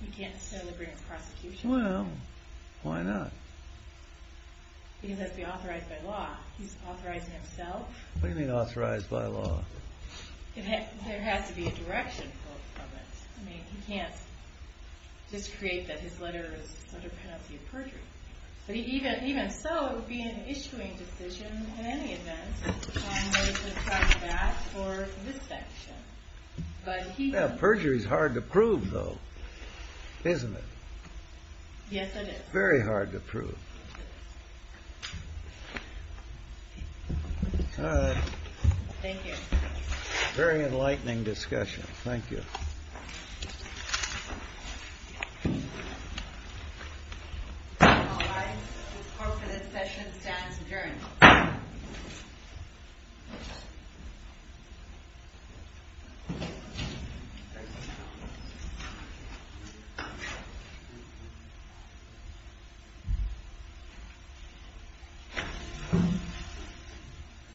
he can't settle a grand prosecution. Well, why not? He has to be authorized by law. He's authorizing himself. What do you mean authorized by law? There has to be a direction from it. I mean, he can't just create that his letter is under penalty of perjury. Even so, it would be an issuing decision in any event, and they should track that for this section. Perjury is hard to prove, though, isn't it? Yes, it is. Very hard to prove. Thank you. Very enlightening discussion. Thank you. All rise. The court for this session stands adjourned.